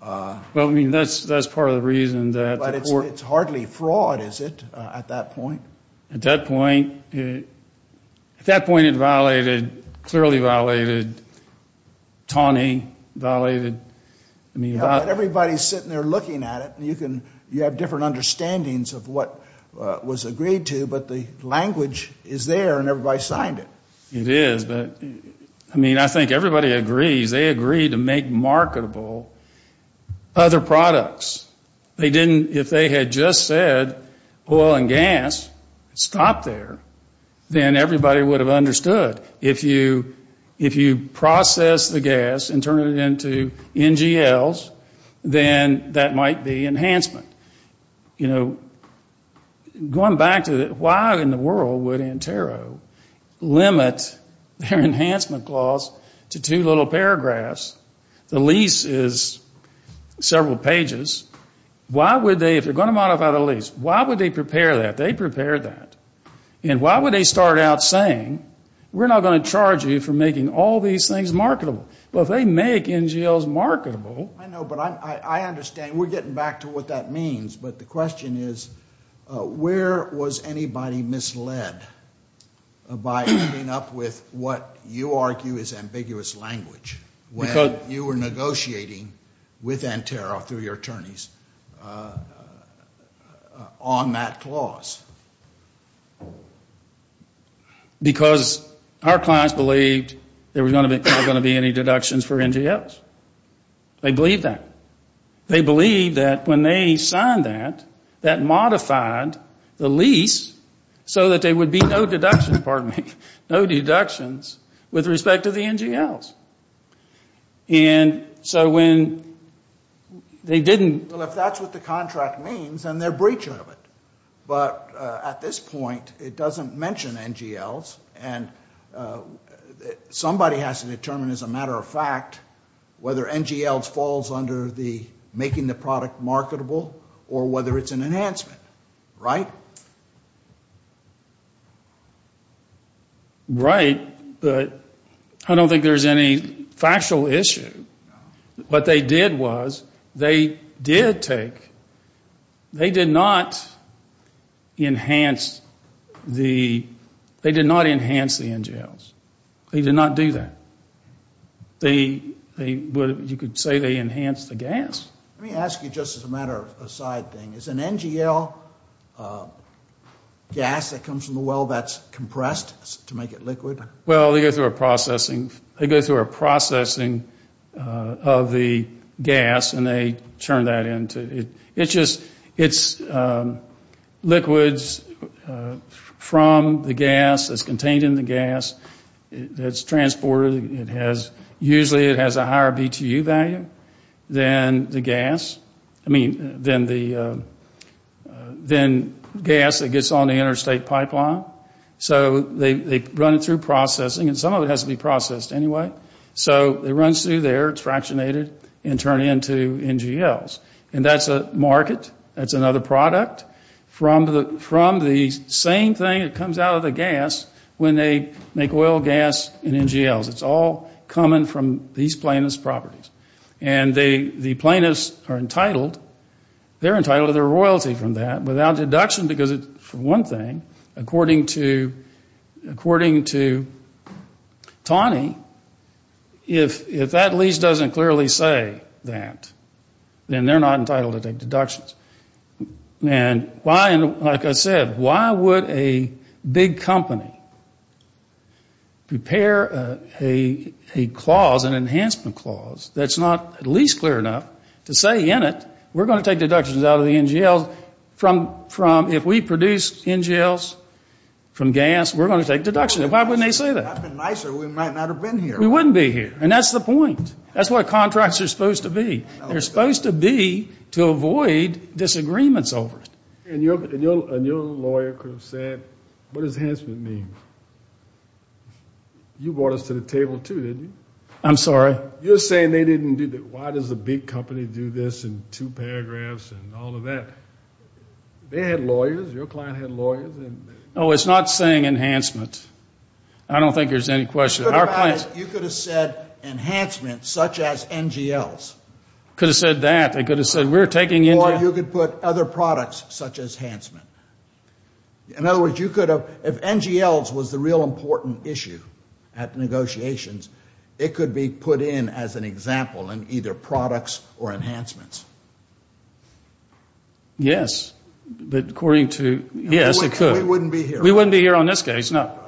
Well, I mean, that's part of the reason that the board. But it's hardly fraud, is it, at that point? At that point, it violated, clearly violated, tawny, violated. I mean, everybody's sitting there looking at it. You have different understandings of what was agreed to, but the language is there, and everybody signed it. It is. I mean, I think everybody agreed. They agreed to make marketable other products. If they had just said oil and gas, stop there, then everybody would have understood. If you process the gas and turn it into NGLs, then that might be enhancement. You know, going back to why in the world would Antero limit their enhancement clause to two little paragraphs? The lease is several pages. Why would they, if you're going to modify the lease, why would they prepare that? They prepare that. And why would they start out saying, we're not going to charge you for making all these things marketable? Well, they make NGLs marketable. I know, but I understand. We're getting back to what that means. But the question is, where was anybody misled by keeping up with what you argue is ambiguous language when you were negotiating with Antero, through your attorneys, on that clause? Because our clients believed there were not going to be any deductions for NGLs. They believed that. They believed that when they signed that, that modified the lease so that there would be no deduction. No deductions with respect to the NGLs. And so when they didn't, well, if that's what the contract means, then they're breacher of it. But at this point, it doesn't mention NGLs. And somebody has to determine, as a matter of fact, whether NGLs falls under the making the product marketable or whether it's an enhancement, right? Right, but I don't think there's any factual issue. What they did was, they did not enhance the NGLs. They did not do that. You could say they enhanced the gas. Let me ask you, just as a matter of a side thing, is an NGL gas that comes from the well that's compressed to make it liquid? Well, they go through a processing of the gas, and they turn that into it. It's liquids from the gas that's contained in the gas that's transported. Usually, it has a higher BTU value than the gas that gets on the interstate pipeline. So they run it through processing. And some of it has to be processed anyway. So it runs through there, it's fractionated, and turned into NGLs. And that's a market. That's another product from the same thing that comes out of the gas when they make oil, gas, and NGLs. It's all coming from these plaintiffs' properties. And the plaintiffs are entitled, they're entitled to their royalty from that without deduction for one thing. According to Taney, if that lease doesn't clearly say that, then they're not entitled to take deductions. And like I said, why would a big company prepare a clause, an enhancement clause, that's not at least clear enough to say in it, we're going to take deductions out of the NGL from if we produce NGLs from gas, we're going to take deductions. Why wouldn't they say that? I'm not sure we might not have been here. We wouldn't be here. And that's the point. That's what contracts are supposed to be. They're supposed to be to avoid disagreements over it. And your lawyer could have said, what does enhancement mean? You brought us to the table too, didn't you? I'm sorry? You're saying they didn't do the, why does a big company do this in two paragraphs and all of that? They had lawyers. Your client had lawyers. No, it's not saying enhancements. I don't think there's any question. Our clients, you could have said enhancements such as NGLs. Could have said that. They could have said, we're taking NGLs. Or you could put other products such as enhancement. In other words, you could have, if NGLs was the real important issue at negotiations, it could be put in as an example in either products or enhancements. Yes, according to, yes, it could. We wouldn't be here. We wouldn't be here on this case, no.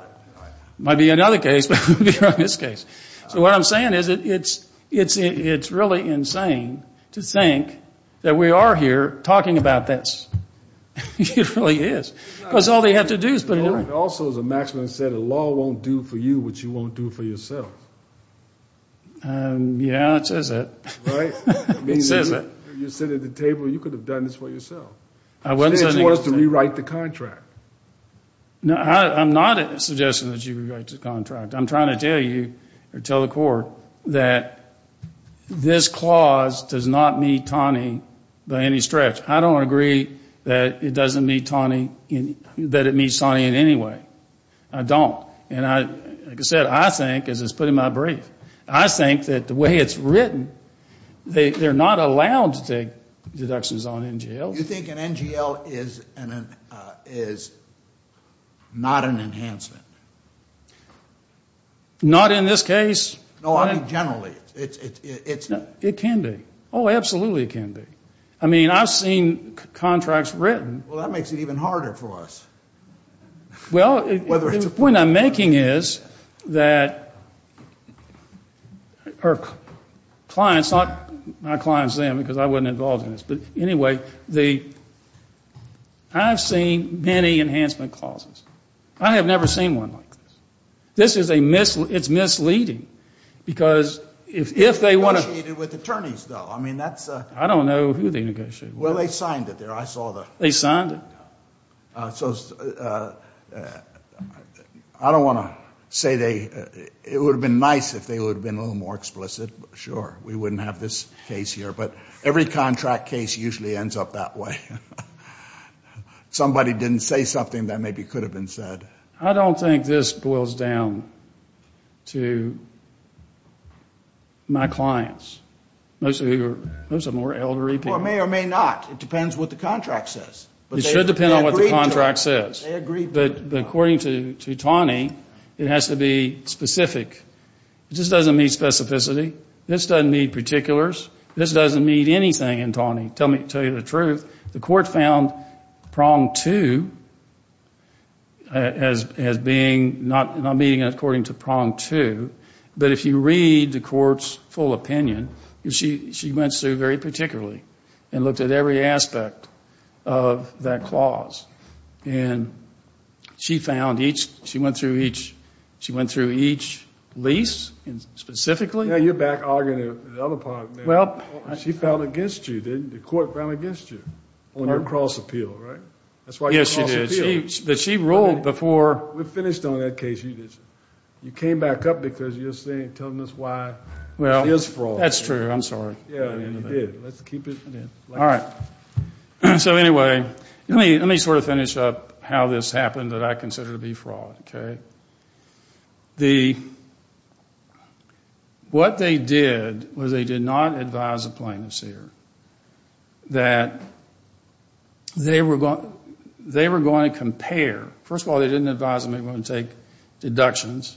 Might be another case, but we wouldn't be here on this case. So what I'm saying is it's really insane to think that we are here talking about this. It really is. Because all they have to do is put it in. Also, as Maxwell said, a law won't do for you what you won't do for yourself. Yeah, it says that. It says that. You sit at the table, you could have done this for yourself. I wasn't going to. It says you're supposed to rewrite the contract. No, I'm not suggesting that you rewrite the contract. I'm trying to tell you, or tell the court, that this clause does not meet TANI by any stretch. I don't agree that it meets TANI in any way. I don't. And like I said, I think, as it's put in my brief, I think that the way it's written, they're not allowed to take deductions on NGL. You think an NGL is not an enhancement? Not in this case? No, I think generally. It can be. Oh, absolutely it can be. I mean, I've seen contracts written. Well, that makes it even harder for us. Well, the point I'm making is that our clients, not my clients then, because I wasn't involved in this, but anyway, I've seen many enhancement clauses. I have never seen one like this. This is a misleading. It's misleading. Because if they want to. It's associated with attorneys, though. I don't know who the negotiator was. Well, they signed it. I saw that. They signed it. So I don't want to say they, it would have been nice if they would have been a little more explicit, but sure, we wouldn't have this case here. But every contract case usually ends up that way. Somebody didn't say something that maybe could have been said. I don't think this boils down to my clients. Those are more elderly people. Well, it may or may not. It depends what the contract says. It should depend on what the contract says. But according to Tawny, it has to be specific. This doesn't mean specificity. This doesn't mean particulars. This doesn't mean anything in Tawny, to tell you the truth. The court found prong two as not being according to prong two. But if you read the court's full opinion, she went through very particularly and looked at every aspect of that clause. And she found each, she went through each, she went through each lease specifically. Yeah, you're back arguing the other part. Well, she found against you, didn't she? The court found against you on her cross appeal, right? That's why you cross appealed. But she ruled before. We're finished on that case. You came back up because you're saying, telling us why it is fraud. That's true. I'm sorry. Yeah, you did. All right. So anyway, let me sort of finish up how this happened that I consider to be fraud, OK? What they did was they did not advise the plaintiffs here that they were going to compare. First of all, they didn't advise them they were going to take deductions.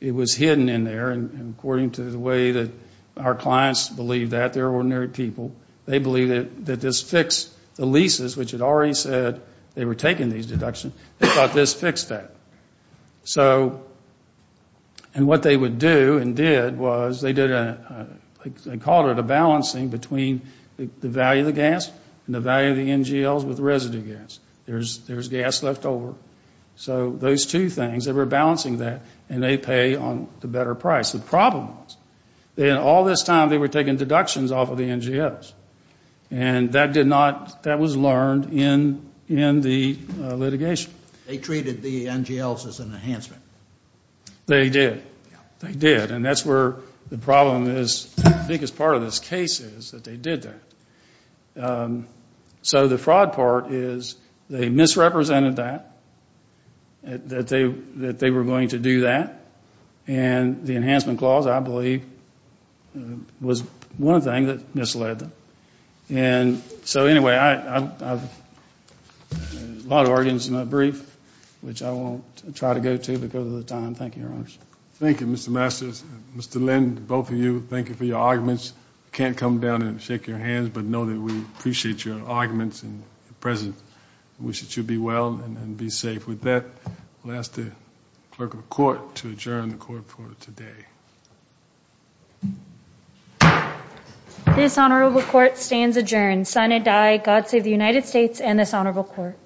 It was hidden in there. And according to the way that our clients believed that, they're ordinary people. They believe that this fixed the leases, which had already said they were taking these deductions. They thought this fixed that. So and what they would do and did was they did a, they called it a balancing between the value of the gas and the value of the NGLs with residue gas. There's gas left over. So those two things, they were balancing that. And they pay on the better price. The problem was that all this time they were taking deductions off of the NGLs. And that did not, that was learned in the litigation. They treated the NGLs as an enhancement. They did. They did. And that's where the problem is, the biggest part of this case is that they did that. So the fraud part is they misrepresented that, that they were going to do that. And the enhancement clause, I believe, was one thing that misled them. And so anyway, I have a lot of arguments in my brief, which I won't try to go to because of the time. Thank you, Your Honors. Thank you, Mr. Masters. Mr. Linden, both of you, thank you for your arguments. Can't come down and shake your hands, but know that we appreciate your arguments and presence. We wish that you be well and be safe with that. We'll ask the clerk of the court to adjourn the court court today. This honorable court stands adjourned. Signed and died, God save the United States and this honorable court.